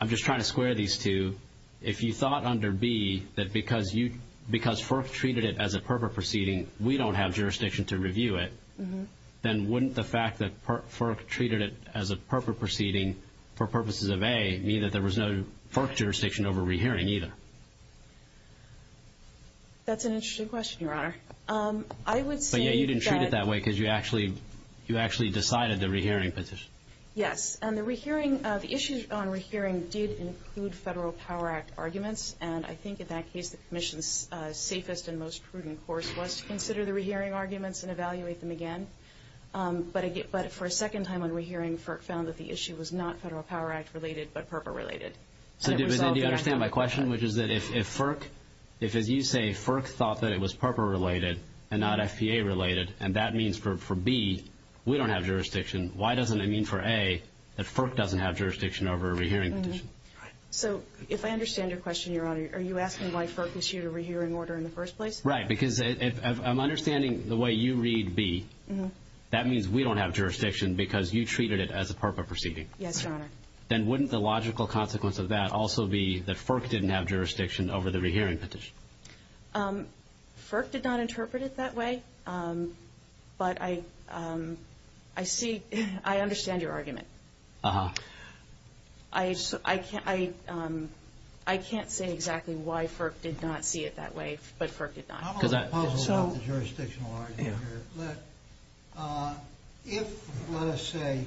I'm just trying to square these two. If you thought under B that because FERC treated it as a FERPA proceeding, we don't have jurisdiction to review it, then wouldn't the fact that FERC treated it as a FERPA proceeding for purposes of A mean that there was no FERC jurisdiction over re-hearing either? That's an interesting question, Your Honor. You didn't treat it that way because you actually decided the re-hearing petition. Yes. The issues on re-hearing did include Federal Power Act arguments, and I think in that case the commission's safest and most prudent course was to consider the re-hearing arguments and evaluate them again. But for a second time on re-hearing, FERC found that the issue was not Federal Power Act related but FERPA related. So do you understand my question, which is that if FERC, if as you say FERC thought that it was FERPA related and not FCA related, and that means for B we don't have jurisdiction, why doesn't it mean for A that FERC doesn't have jurisdiction over a re-hearing petition? So if I understand your question, Your Honor, are you asking why FERC issued a re-hearing order in the first place? Right, because I'm understanding the way you read B. That means we don't have jurisdiction because you treated it as a FERPA proceeding. Yes, Your Honor. Then wouldn't the logical consequence of that also be that FERC didn't have jurisdiction over the re-hearing petition? FERC did not interpret it that way, but I see, I understand your argument. Uh-huh. I can't say exactly why FERC did not see it that way, but FERC did not. I'm a little puzzled about the jurisdictional argument here. If, let us say,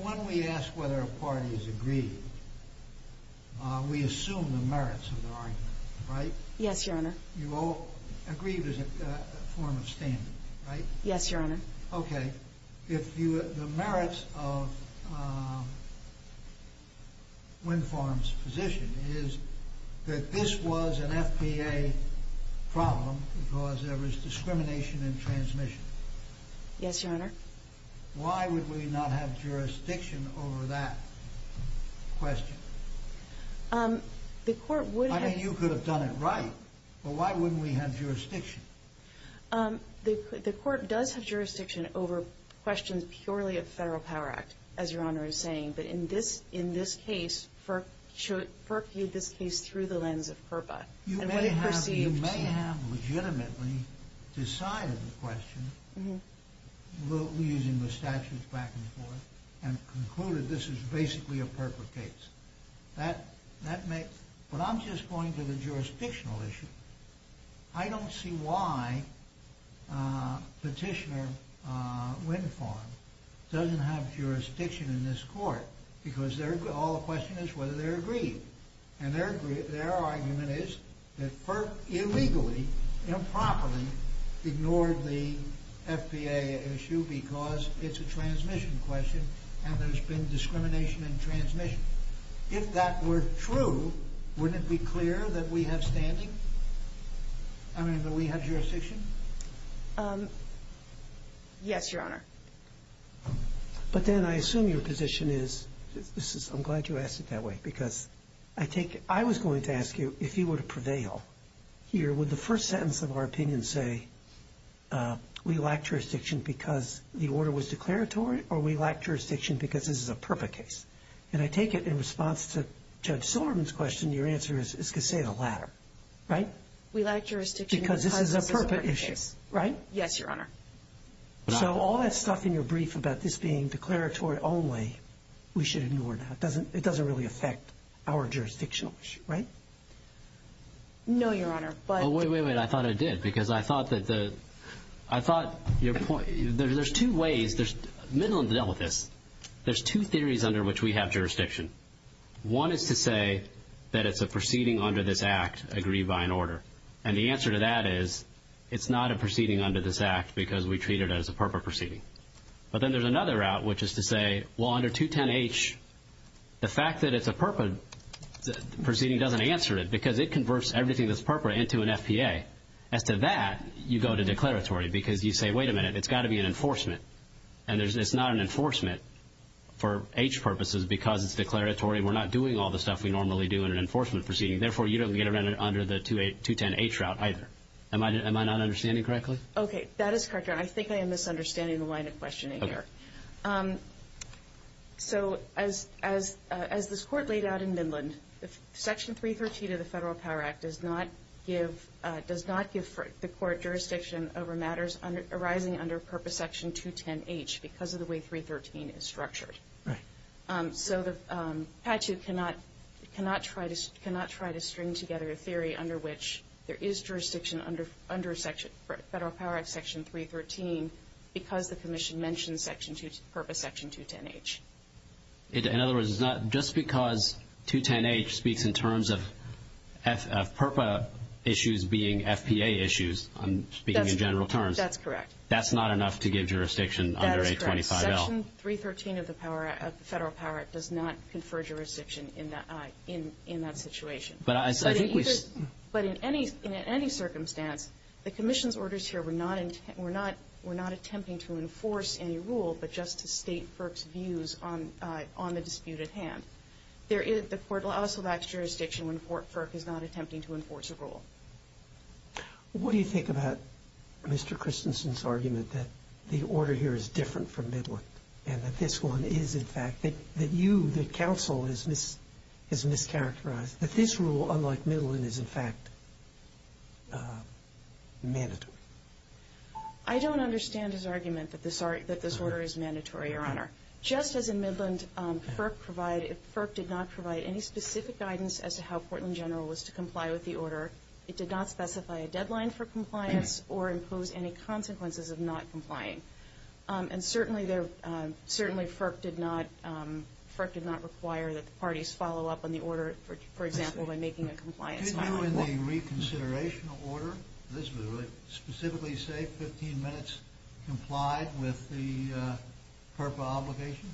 when we ask whether a party is agreed, we assume the merits of the argument, right? Yes, Your Honor. You all agree there's a form of standing, right? Yes, Your Honor. Okay, the merits of Winform's position is that this was an FPA problem because there was discrimination in transmission. Yes, Your Honor. Why would we not have jurisdiction over that question? The court would have... I mean, you could have done it right, but why wouldn't we have jurisdiction? The court does have jurisdiction over questions purely of Federal Power Act, as Your Honor is saying, but in this case, FERC viewed this case through the lens of FERPA. You may have legitimately decided the question, using the statute back and forth, and concluded this is basically a FERPA case. But I'm just going to the jurisdictional issue. I don't see why Petitioner Winform doesn't have jurisdiction in this court because all the question is whether they're agreed. And their argument is that FERP illegally, improperly, ignored the FPA issue because it's a transmission question and there's been discrimination in transmission. If that were true, wouldn't it be clear that we have standing? I mean, that we have jurisdiction? Yes, Your Honor. But then I assume your position is... I'm glad you asked it that way because I take it... I was going to ask you if you would prevail here would the first sentence of our opinion say, we lack jurisdiction because the order was declaratory or we lack jurisdiction because this is a FERPA case? And I take it in response to Judge Sullivan's question, your answer is to say the latter. Right? We lack jurisdiction because this is a FERPA case. Because this is a FERPA issue. Right? Yes, Your Honor. So all that stuff in your brief about this being declaratory only, we should ignore that. It doesn't really affect our jurisdictional issue, right? No, Your Honor. But... Wait, wait, wait. I thought it did. Because I thought that the... I thought your point... There's two ways... Middle of the devil with this. There's two theories under which we have jurisdiction. One is to say that it's a proceeding under this Act agreed by an order. And the answer to that is it's not a proceeding under this Act because we treat it as a FERPA proceeding. But then there's another route, which is to say, well, under 210H, the fact that it's a FERPA proceeding doesn't answer it because it converts everything that's FERPA into an FPA. As to that, you go to declaratory because you say, wait a minute, it's got to be an enforcement. And it's not an enforcement for H purposes because it's declaratory. We're not doing all the stuff we normally do in an enforcement proceeding. Therefore, you don't get it under the 210H route either. Am I not understanding correctly? Okay. That is correct, Your Honor. I think I am misunderstanding the line of questioning here. Okay. So as this Court laid out in Midland, Section 313 of the Federal Power Act does not give the Court jurisdiction over matters arising under FERPA Section 210H because of the way 313 is structured. So the statute cannot try to string together a theory under which there is jurisdiction under Federal Power Act Section 313 because the Commission mentioned FERPA Section 210H. In other words, it's not just because 210H speaks in terms of FERPA issues being FPA issues, speaking in general terms. That's correct. That's not enough to give jurisdiction under 825L. That is correct. Section 313 of the Federal Power Act does not confer jurisdiction in that situation. But in any circumstance, the Commission's orders here were not attempting to enforce any rule but just to state FERPA's views on the dispute at hand. The Court will also lack jurisdiction when FERPA is not attempting to enforce a rule. What do you think about Mr. Christensen's argument that the order here is different from Midland and that this one is, in fact, that you, the counsel, is mischaracterized? That this rule, unlike Midland, is, in fact, mandatory? I don't understand his argument that this order is mandatory, Your Honor. Just as in Midland, FERPA did not provide any specific guidance as to how Portland General was to comply with the order. It did not specify a deadline for compliance or impose any consequences of not complying. And certainly, FERPA did not require that the parties follow up on the order, for example, when making a complaint. Did you, in the reconsideration order, specifically say 15 minutes complied with the FERPA obligation?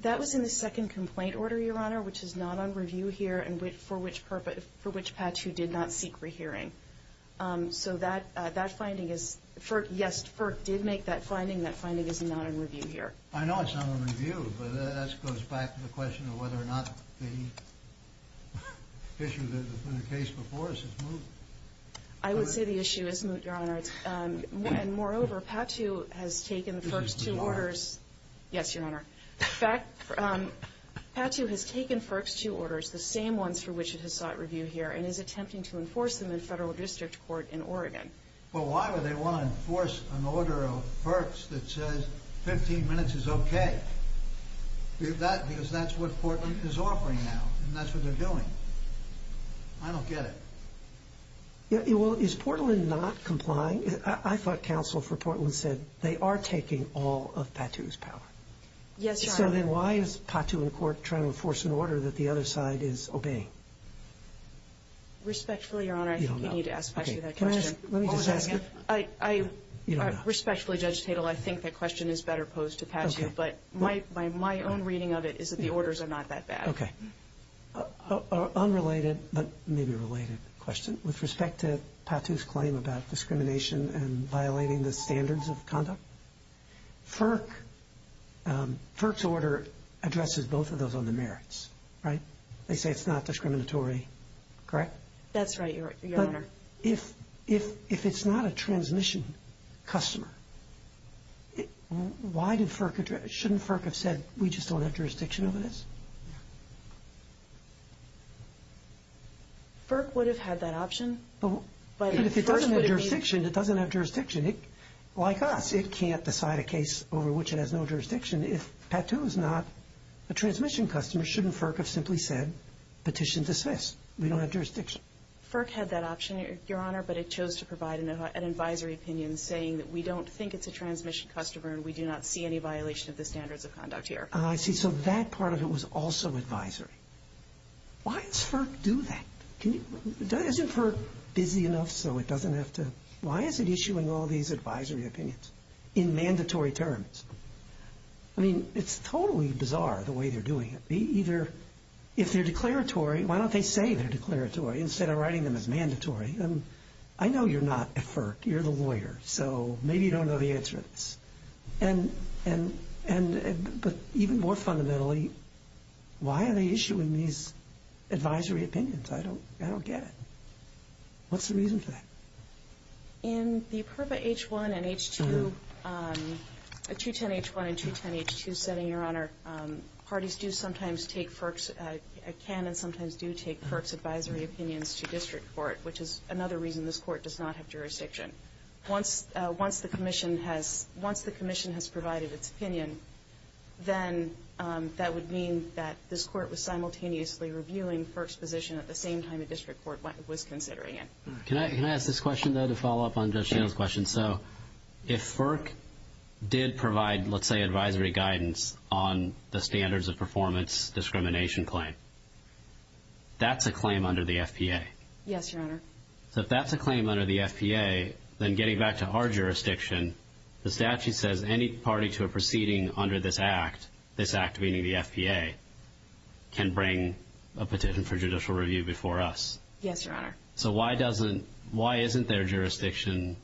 That was in the second complaint order, Your Honor, which is not on review here and for which patch you did not seek rehearing. So that finding is, yes, FERPA did make that finding. That finding is not on review here. I know it's not on review, but that goes back to the question of whether or not the issue that was put in place before us is moved. I would say the issue is moved, Your Honor. And moreover, patch you has taken FERPA's two orders. Yes, Your Honor. Patch you has taken FERPA's two orders, the same ones for which it has sought review here, and is attempting to enforce them in federal district court in Oregon. Well, why would they want to enforce an order of FERPA that says 15 minutes is okay? Because that's what Portland is offering now, and that's what they're doing. I don't get it. Well, is Portland not complying? I thought counsel for Portland said they are taking all of patch you's power. Yes, Your Honor. Then why is patch you in court trying to enforce an order that the other side is obeying? Respectfully, Your Honor, I think you need to ask that question. Let me just ask you. Respectfully, Judge Tatel, I think that question is better posed to patch you, but my own reading of it is that the orders are not that bad. Okay. Unrelated, but maybe related question. With respect to patch you's claim about discrimination and violating the standards of conduct, FERC's order addresses both of those under merits, right? They say it's not discriminatory, correct? That's right, Your Honor. But if it's not a transmission customer, shouldn't FERC have said we just don't have jurisdiction over this? FERC would have had that option. If it doesn't have jurisdiction, it doesn't have jurisdiction. Like us, it can't decide a case over which it has no jurisdiction. If patch two is not a transmission customer, shouldn't FERC have simply said petition dismissed? We don't have jurisdiction. FERC had that option, Your Honor, but it chose to provide an advisory opinion saying that we don't think it's a transmission customer and we do not see any violation of the standards of conduct here. I see. So that part of it was also advisory. Why does FERC do that? Isn't FERC busy enough so it doesn't have to? Why is it issuing all these advisory opinions in mandatory terms? I mean, it's totally bizarre the way they're doing it. They either, if they're declaratory, why don't they say they're declaratory instead of writing them as mandatory? I know you're not at FERC. You're the lawyer, so maybe you don't know the answer. And even more fundamentally, why are they issuing these advisory opinions? I don't get it. What's the reason for that? In the CLIPA H-1 and H-2, 210 H-1 and 210 H-2 setting, Your Honor, parties do sometimes take FERC's, can and sometimes do take FERC's advisory opinions to district court, which is another reason this court does not have jurisdiction. Once the commission has provided its opinion, then that would mean that this court was simultaneously reviewing FERC's position at the same time the district court was considering it. Can I ask this question, though, to follow up on Judge Gilles' question? So if FERC did provide, let's say, advisory guidance on the standards of performance discrimination claim, that's a claim under the FPA. Yes, Your Honor. So if that's a claim under the FPA, then getting back to our jurisdiction, the statute says any party to a proceeding under this act, meaning the FPA, can bring a petition for judicial review before us. Yes, Your Honor. So why doesn't, why isn't there jurisdiction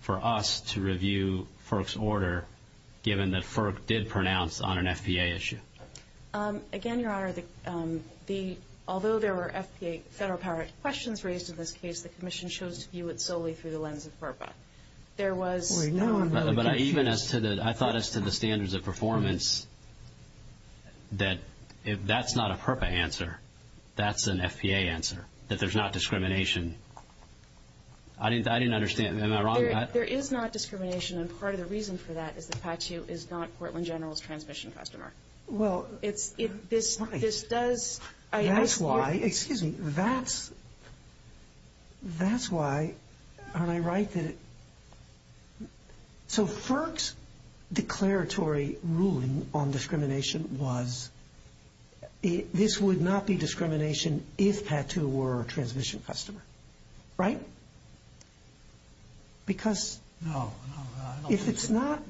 for us to review FERC's order, given that FERC did pronounce on an FPA issue? Again, Your Honor, the, although there were FPA federal power questions raised in this case, the commission chose to view it solely through the lens of FERPA. There was, but even as to the, I thought as to the standards of performance, that if that's not a FERPA answer, that's an FPA answer, that there's not discrimination. I didn't understand, am I wrong? There is not discrimination, and part of the reason for that is the statute is not Portland General's transmission customer. Well, this does, that's why, excuse me, that's, that's why, am I right that, so FERC's declaratory ruling on discrimination was, this would not be discrimination if TATU were a transmission customer. Right? Because if it's not,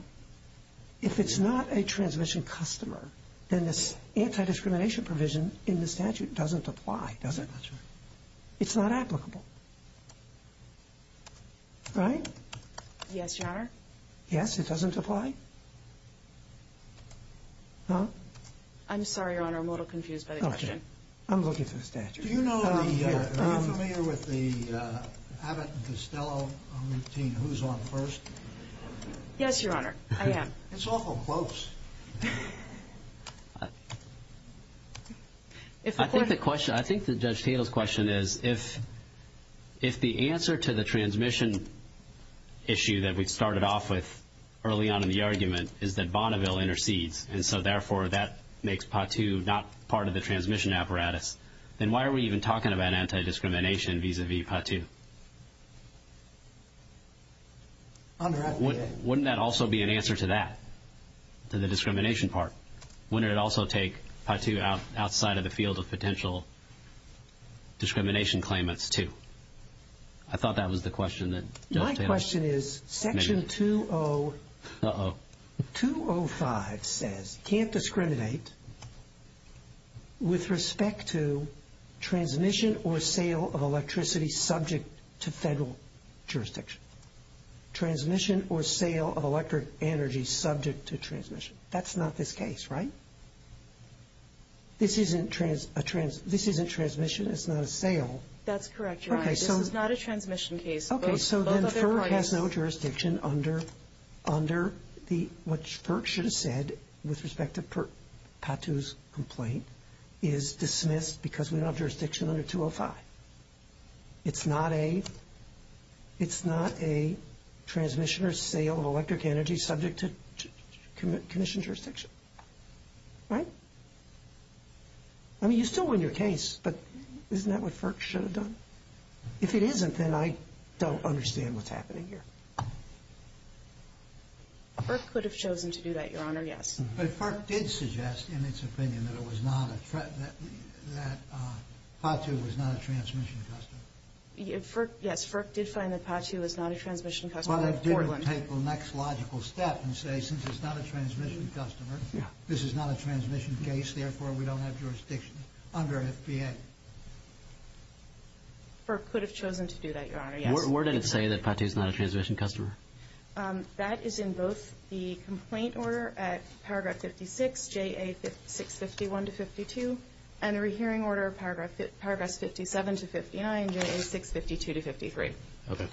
if it's not a transmission customer, then this anti-discrimination provision in the statute doesn't apply, does it? That's right. It's not applicable. Right? Yes, Your Honor. Yes, it doesn't apply? Huh? I'm sorry, Your Honor, I'm a little confused by the question. Okay. I'm looking through the statute. Do you know, I mean, are you familiar with the Abbott and Costello routine, who's on first? Yes, Your Honor, I am. It's awful close. I think the question, I think that Judge Tatel's question is, if the answer to the transmission issue that we started off with early on in the argument is that Bonneville intercedes, and so therefore that makes PA-2 not part of the transmission apparatus, then why are we even talking about anti-discrimination vis-à-vis PA-2? Wouldn't that also be an answer to that, to the discrimination part? Wouldn't it also take PA-2 outside of the field of potential discrimination claimants, too? I thought that was the question that Judge Tatel asked. My question is, Section 205 says, can't discriminate with respect to transmission or sale of electricity subject to federal jurisdiction. Transmission or sale of electric energy subject to transmission. That's not this case, right? This isn't transmission, it's not a sale. That's correct, Your Honor. This is not a transmission case. Okay, so then FERC has no jurisdiction under what FERC should have said with respect to PA-2's complaint, is dismissed because of no jurisdiction under 205. It's not a transmission or sale of electric energy subject to commission jurisdiction, right? I mean, you're still in your case, but isn't that what FERC should have done? If it isn't, then I don't understand what's happening here. FERC could have chosen to do that, Your Honor, yes. But FERC did suggest in its opinion that it was not a threat, that PA-2 was not a transmission customer. Yes, FERC did find that PA-2 was not a transmission customer. But it didn't take the next logical step and say, since it's not a transmission customer, this is not a transmission case, therefore we don't have jurisdiction under FDA. FERC could have chosen to do that, Your Honor, yes. Where did it say that PA-2 is not a transmission customer? That is in both the complaint order at paragraph 56, J.A. 651-52, and the rehearing order of paragraph 57-59, J.A. 652-53. Okay.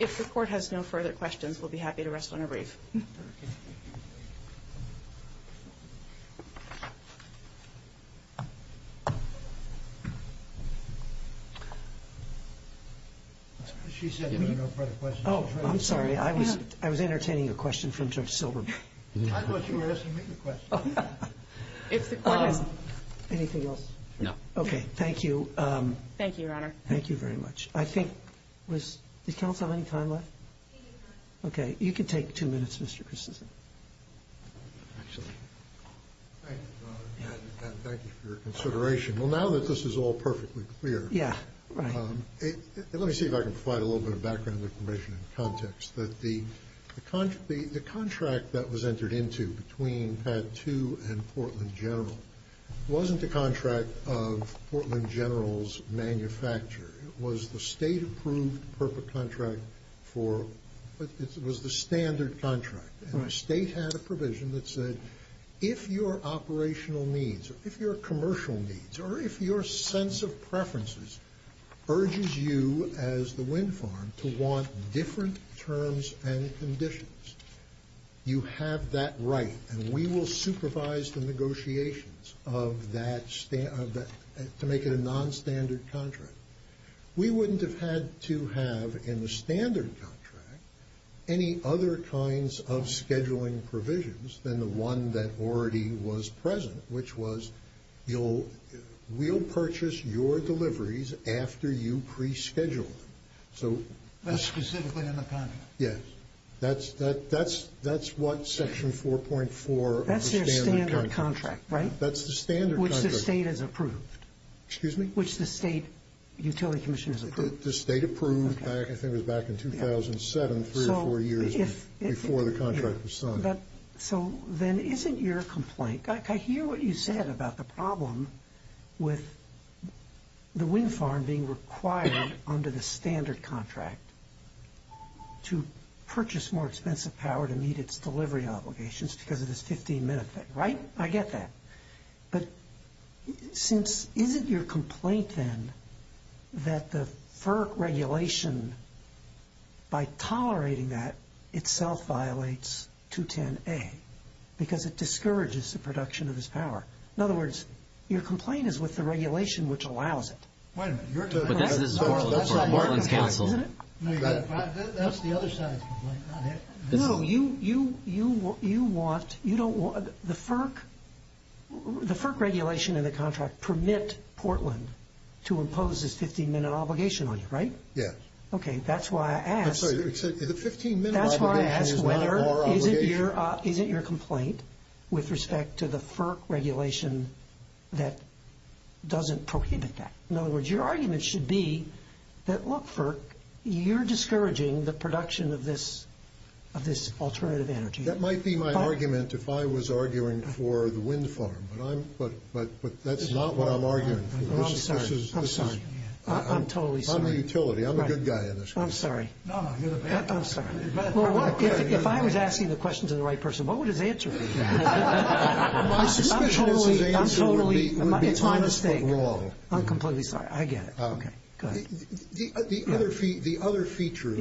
If the Court has no further questions, we'll be happy to rest on a brief. She said there were no further questions. Oh, I'm sorry. I was entertaining a question from Judge Silverberg. I thought you were asking me the question. Anything else? No. Okay. Thank you. Thank you, Your Honor. Thank you very much. I think, was, did counsel have any time left? Okay. You can take two minutes, Mr. Kucinich. Thank you, Your Honor. And thank you for your consideration. Well, now that this is all perfectly clear. Yeah. Let me see if I can provide a little bit of background information and context. The contract that was entered into between PA-2 and Portland General wasn't the contract of Portland General's manufacturer. It was the state-approved FERPA contract for, it was the standard contract. And the state had a provision that said, if your operational needs, if your commercial needs, or if your sense of preferences urges you, as the wind farm, to want different terms and conditions, you have that right, and we will supervise the negotiations of that, to make it a nonstandard contract. We wouldn't have had to have, in the standard contract, any other kinds of scheduling provisions than the one that already was present, which was, we'll purchase your deliveries after you pre-schedule them. That's specifically in the contract? Yes. That's what section 4.4 of the standard contract. That's your standard contract, right? That's the standard contract. Which the state has approved. Excuse me? Which the state utility commission has approved. The state approved, I think it was back in 2007, three or four years before the contract was signed. So then, isn't your complaint, I hear what you said about the problem with the wind farm being required under the standard contract to purchase more expensive power to meet its delivery obligations because of this 15-minute thing, right? I get that. But isn't your complaint then that the FERC regulation, by tolerating that, itself violates 210A, because it discourages the production of this power. In other words, your complaint is with the regulation which allows it. Wait a minute. That's the other side of the complaint. No, the FERC regulation and the contract permit Portland to impose this 15-minute obligation on you, right? Yes. Okay. That's why I asked. The 15-minute obligation is one of our obligations. Isn't your complaint with respect to the FERC regulation that doesn't prohibit that? In other words, your argument should be that, look, FERC, you're discouraging the production of this alternative energy. That might be my argument if I was arguing for the wind farm, but that's not what I'm arguing for. I'm sorry. I'm totally sorry. I'm a good guy in this case. I'm sorry. I'm sorry. If I was asking the question to the right person, what would his answer be? I'm totally, it's my mistake. I'm completely sorry. I get it. Okay. The other feature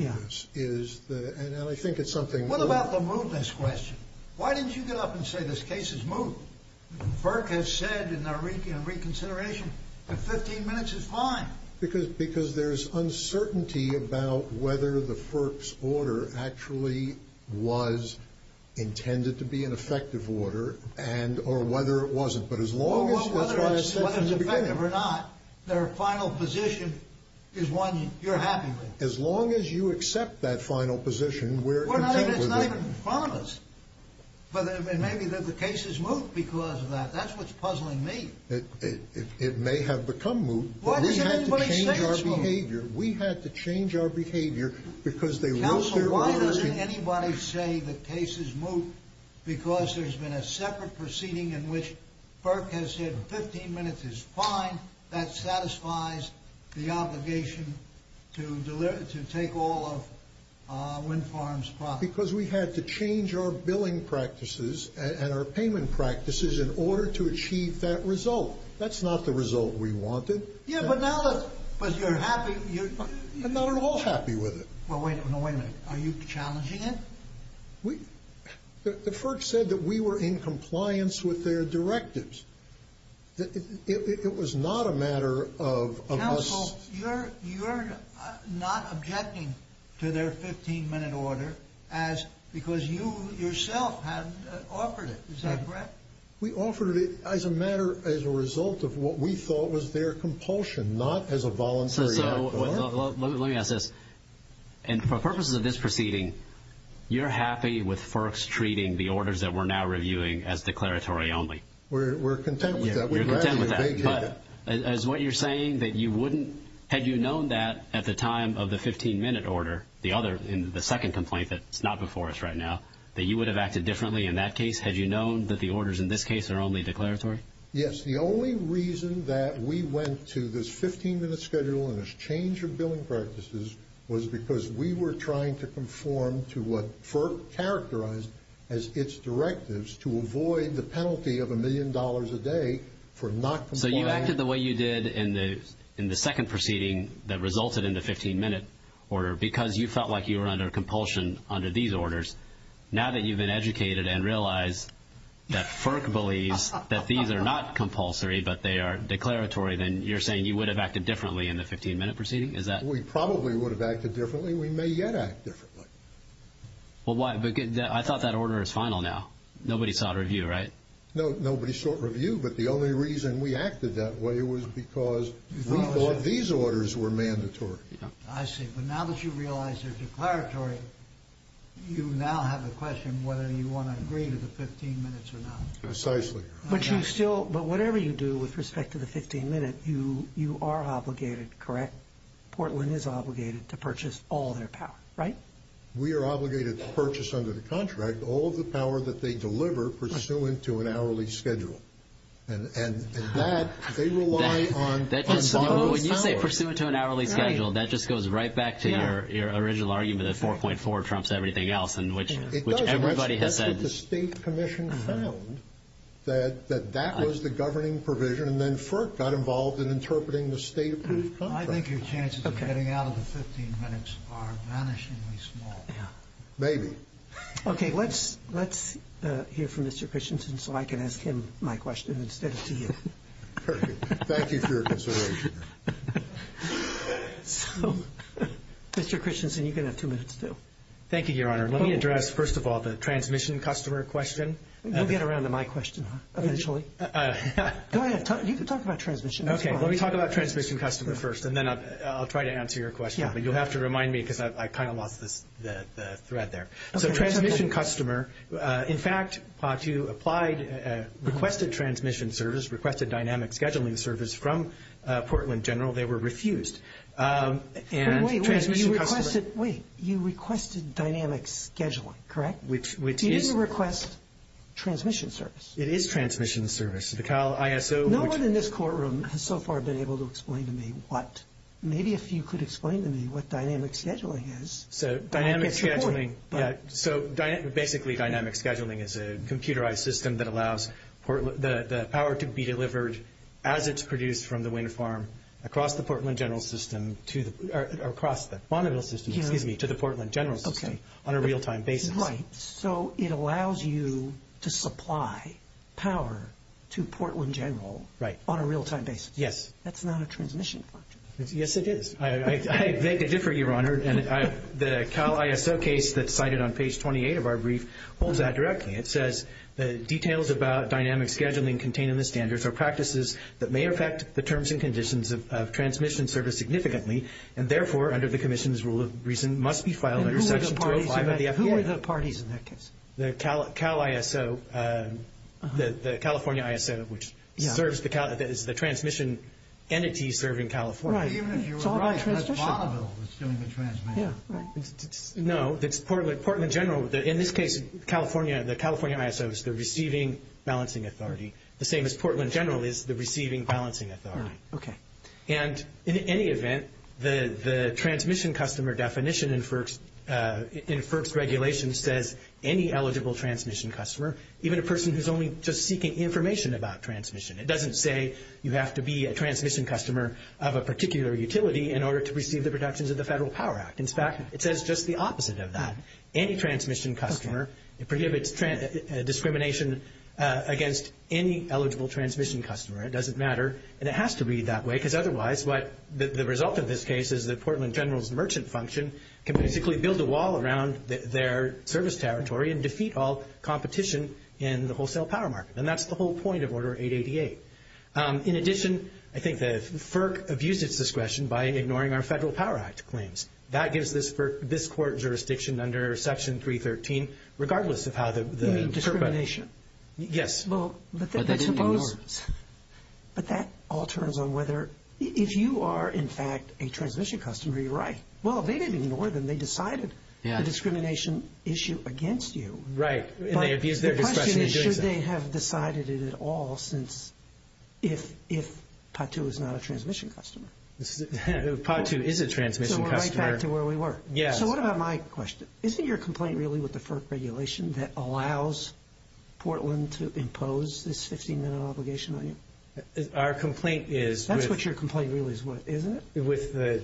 is, and I think it's something. What about the movement question? Why didn't you get up and say this case is moving? FERC has said in their reconsideration that 15 minutes is fine. Because there's uncertainty about whether the FERC's order actually was intended to be an effective order or whether it wasn't. But as long as it's effective or not, their final position is one you're happy with. As long as you accept that final position. It's not even promised. But maybe the case is moved because of that. That's what's puzzling me. It may have become moved, but we have to change our behavior. We have to change our behavior. Counselor, why doesn't anybody say the case is moved? Because there's been a separate proceeding in which FERC has said 15 minutes is fine. That satisfies the obligation to take all of Wynn Farms' property. Because we had to change our billing practices and our payment practices in order to achieve that result. That's not the result we wanted. Yeah, but now that you're happy. Now we're all happy with it. Wait a minute. Are you challenging it? The FERC said that we were in compliance with their directives. It was not a matter of us. Counsel, you're not objecting to their 15-minute order because you yourself have offered it. Is that correct? We offered it as a matter, as a result of what we thought was their compulsion, not as a voluntary. Let me ask this. For purposes of this proceeding, you're happy with FERC's treating the orders that we're now reviewing as declaratory only? We're content with that. You're content with that. But is what you're saying that you wouldn't, had you known that at the time of the 15-minute order, the second complaint that's not before us right now, that you would have acted differently in that case? Had you known that the orders in this case are only declaratory? Yes. The only reason that we went to this 15-minute schedule and this change of billing practices was because we were trying to conform to what FERC characterized as its directives to avoid the penalty of a million dollars a day for not conforming. So you acted the way you did in the second proceeding that resulted in the 15-minute order because you felt like you were under compulsion under these orders. Now that you've been educated and realized that FERC believes that these are not compulsory but they are declaratory, then you're saying you would have acted differently in the 15-minute proceeding? Is that? We probably would have acted differently. We may yet act differently. I thought that order is final now. Nobody sought review, right? Nobody sought review, but the only reason we acted that way was because we thought these orders were mandatory. I see. But now that you realize they're declaratory, you now have a question whether you want to agree to the 15 minutes or not. Precisely. But whatever you do with respect to the 15-minute, you are obligated, correct? Portland is obligated to purchase all their power, right? We are obligated to purchase under the contract all the power that they deliver pursuant to an hourly schedule. And that they rely on. When you say pursuant to an hourly schedule, that just goes right back to your original argument of 4.4 trumps everything else in which everybody has that. The state commission found that that was the governing provision, and then FERC got involved in interpreting the state approved contract. I think your chances of getting out of the 15 minutes are vanishingly small. Maybe. Okay. Let's hear from Mr. Christensen so I can ask him my question instead of to you. Perfect. Thank you for your consideration. Mr. Christensen, you can have two minutes still. Thank you, Your Honor. Let me address, first of all, the transmission customer question. You'll get around to my question eventually. Go ahead. You can talk about transmission. Okay. Let me talk about transmission customer first, and then I'll try to answer your question. But you'll have to remind me because I kind of lost the thread there. So transmission customer, in fact, if you requested transmission service, requested dynamic scheduling service from Portland General, they were refused. Wait. You requested dynamic scheduling, correct? You didn't request transmission service. It is transmission service. No one in this courtroom has so far been able to explain to me what. Maybe if you could explain to me what dynamic scheduling is. So basically, dynamic scheduling is a computerized system that allows the power to be delivered as it's produced from the wind farm across the Montreal system to the Portland General system on a real-time basis. Right. So it allows you to supply power to Portland General on a real-time basis. Yes. That's not a transmission question. Yes, it is. I beg to differ, Your Honor. The CALISO case that's cited on page 28 of our brief holds that directly. It says, the details about dynamic scheduling contained in the standards are practices that may affect the terms and conditions of transmission service significantly, and therefore, under the commission's rule of reason must be filed under section 25 of the CALISO case. The CALISO, the California ISO, which is the transmission entity serving California. Right. Even if you're right, that's possible. It's doing the transmission. Yeah. Right. No, it's Portland General. In this case, California, the California ISO is the receiving balancing authority. The same as Portland General is the receiving balancing authority. Okay. And in any event, the transmission customer definition in FERC's regulations says, any eligible transmission customer, even a person who's only just seeking information about transmission. It doesn't say you have to be a transmission customer of a particular utility in order to receive the protections of the Federal Power Act. In fact, it says just the opposite of that. Any transmission customer, it prohibits discrimination against any eligible transmission customer. It doesn't matter. And it has to be that way because otherwise what the result of this case is that Portland General's merchant function can basically build a wall around their service territory and defeat all competition in the wholesale power market. And that's the whole point of order 888. In addition, I think that FERC abused its discretion by ignoring our Federal Power Act claims. That gives this court jurisdiction under section 313, regardless of how the. Discrimination. Yes. But that all turns on whether if you are, in fact, a transmission customer, you're right. Well, they didn't ignore them. They decided the discrimination issue against you. Right. Should they have decided it at all since if, if Patu is not a transmission customer. Patu is a transmission customer. So we're right back to where we were. Yeah. So what about my question? Is it your complaint really with the FERC regulation that allows Portland to impose this 15 minute obligation on you? Our complaint is. That's what your complaint really is. Isn't it? With the.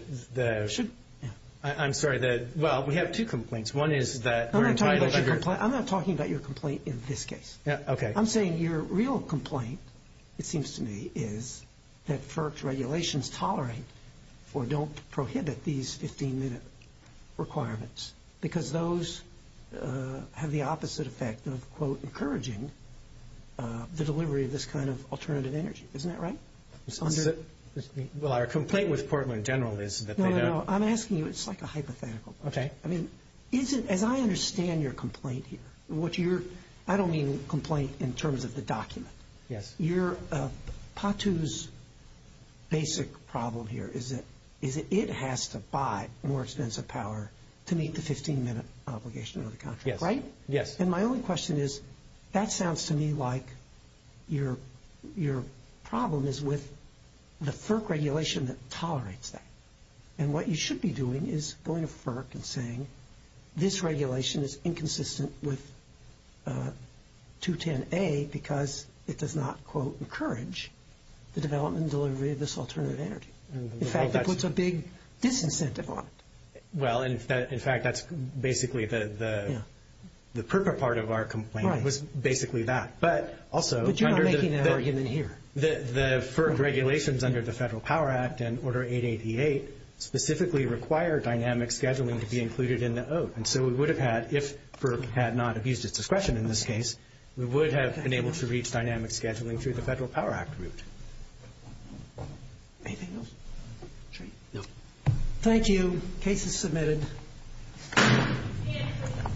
I'm sorry that. Well, we have two complaints. One is that. I'm not talking about your complaint in this case. Yeah. Okay. I'm saying your real complaint. It seems to me is that FERC regulations tolerate or don't prohibit these 15 minutes. Requirements because those have the opposite effect of quote, quote, encouraging the delivery of this kind of alternative energy. Isn't that right? Well, our complaint with Portland in general is. I'm asking you, it's like a hypothetical. Okay. I mean, isn't, as I understand your complaint here, what you're, I don't mean complaint in terms of the document. Yes. You're Patu's basic problem here. Is it, is it, it has to buy more expensive power to meet the 15 minute obligation of the contract. Right. Yes. And my only question is, that sounds to me like your, your problem is with the FERC regulation that tolerates that. And what you should be doing is going to FERC and saying, this regulation is inconsistent with a two 10 a, because it does not quote, encourage the development delivery of this alternative energy. In fact, that puts a big disincentive on it. Well, in fact, that's basically the, the, the FERC part of our complaint was basically that, but also the regulations under the federal power act and order eight, 88 specifically require dynamic scheduling to be included in that. Oh. And so we would have had, if FERC had not abused his discretion, in this case, we would have been able to reach dynamic scheduling through the federal power act route. Anything else? No. Thank you. Case is submitted. Thank you.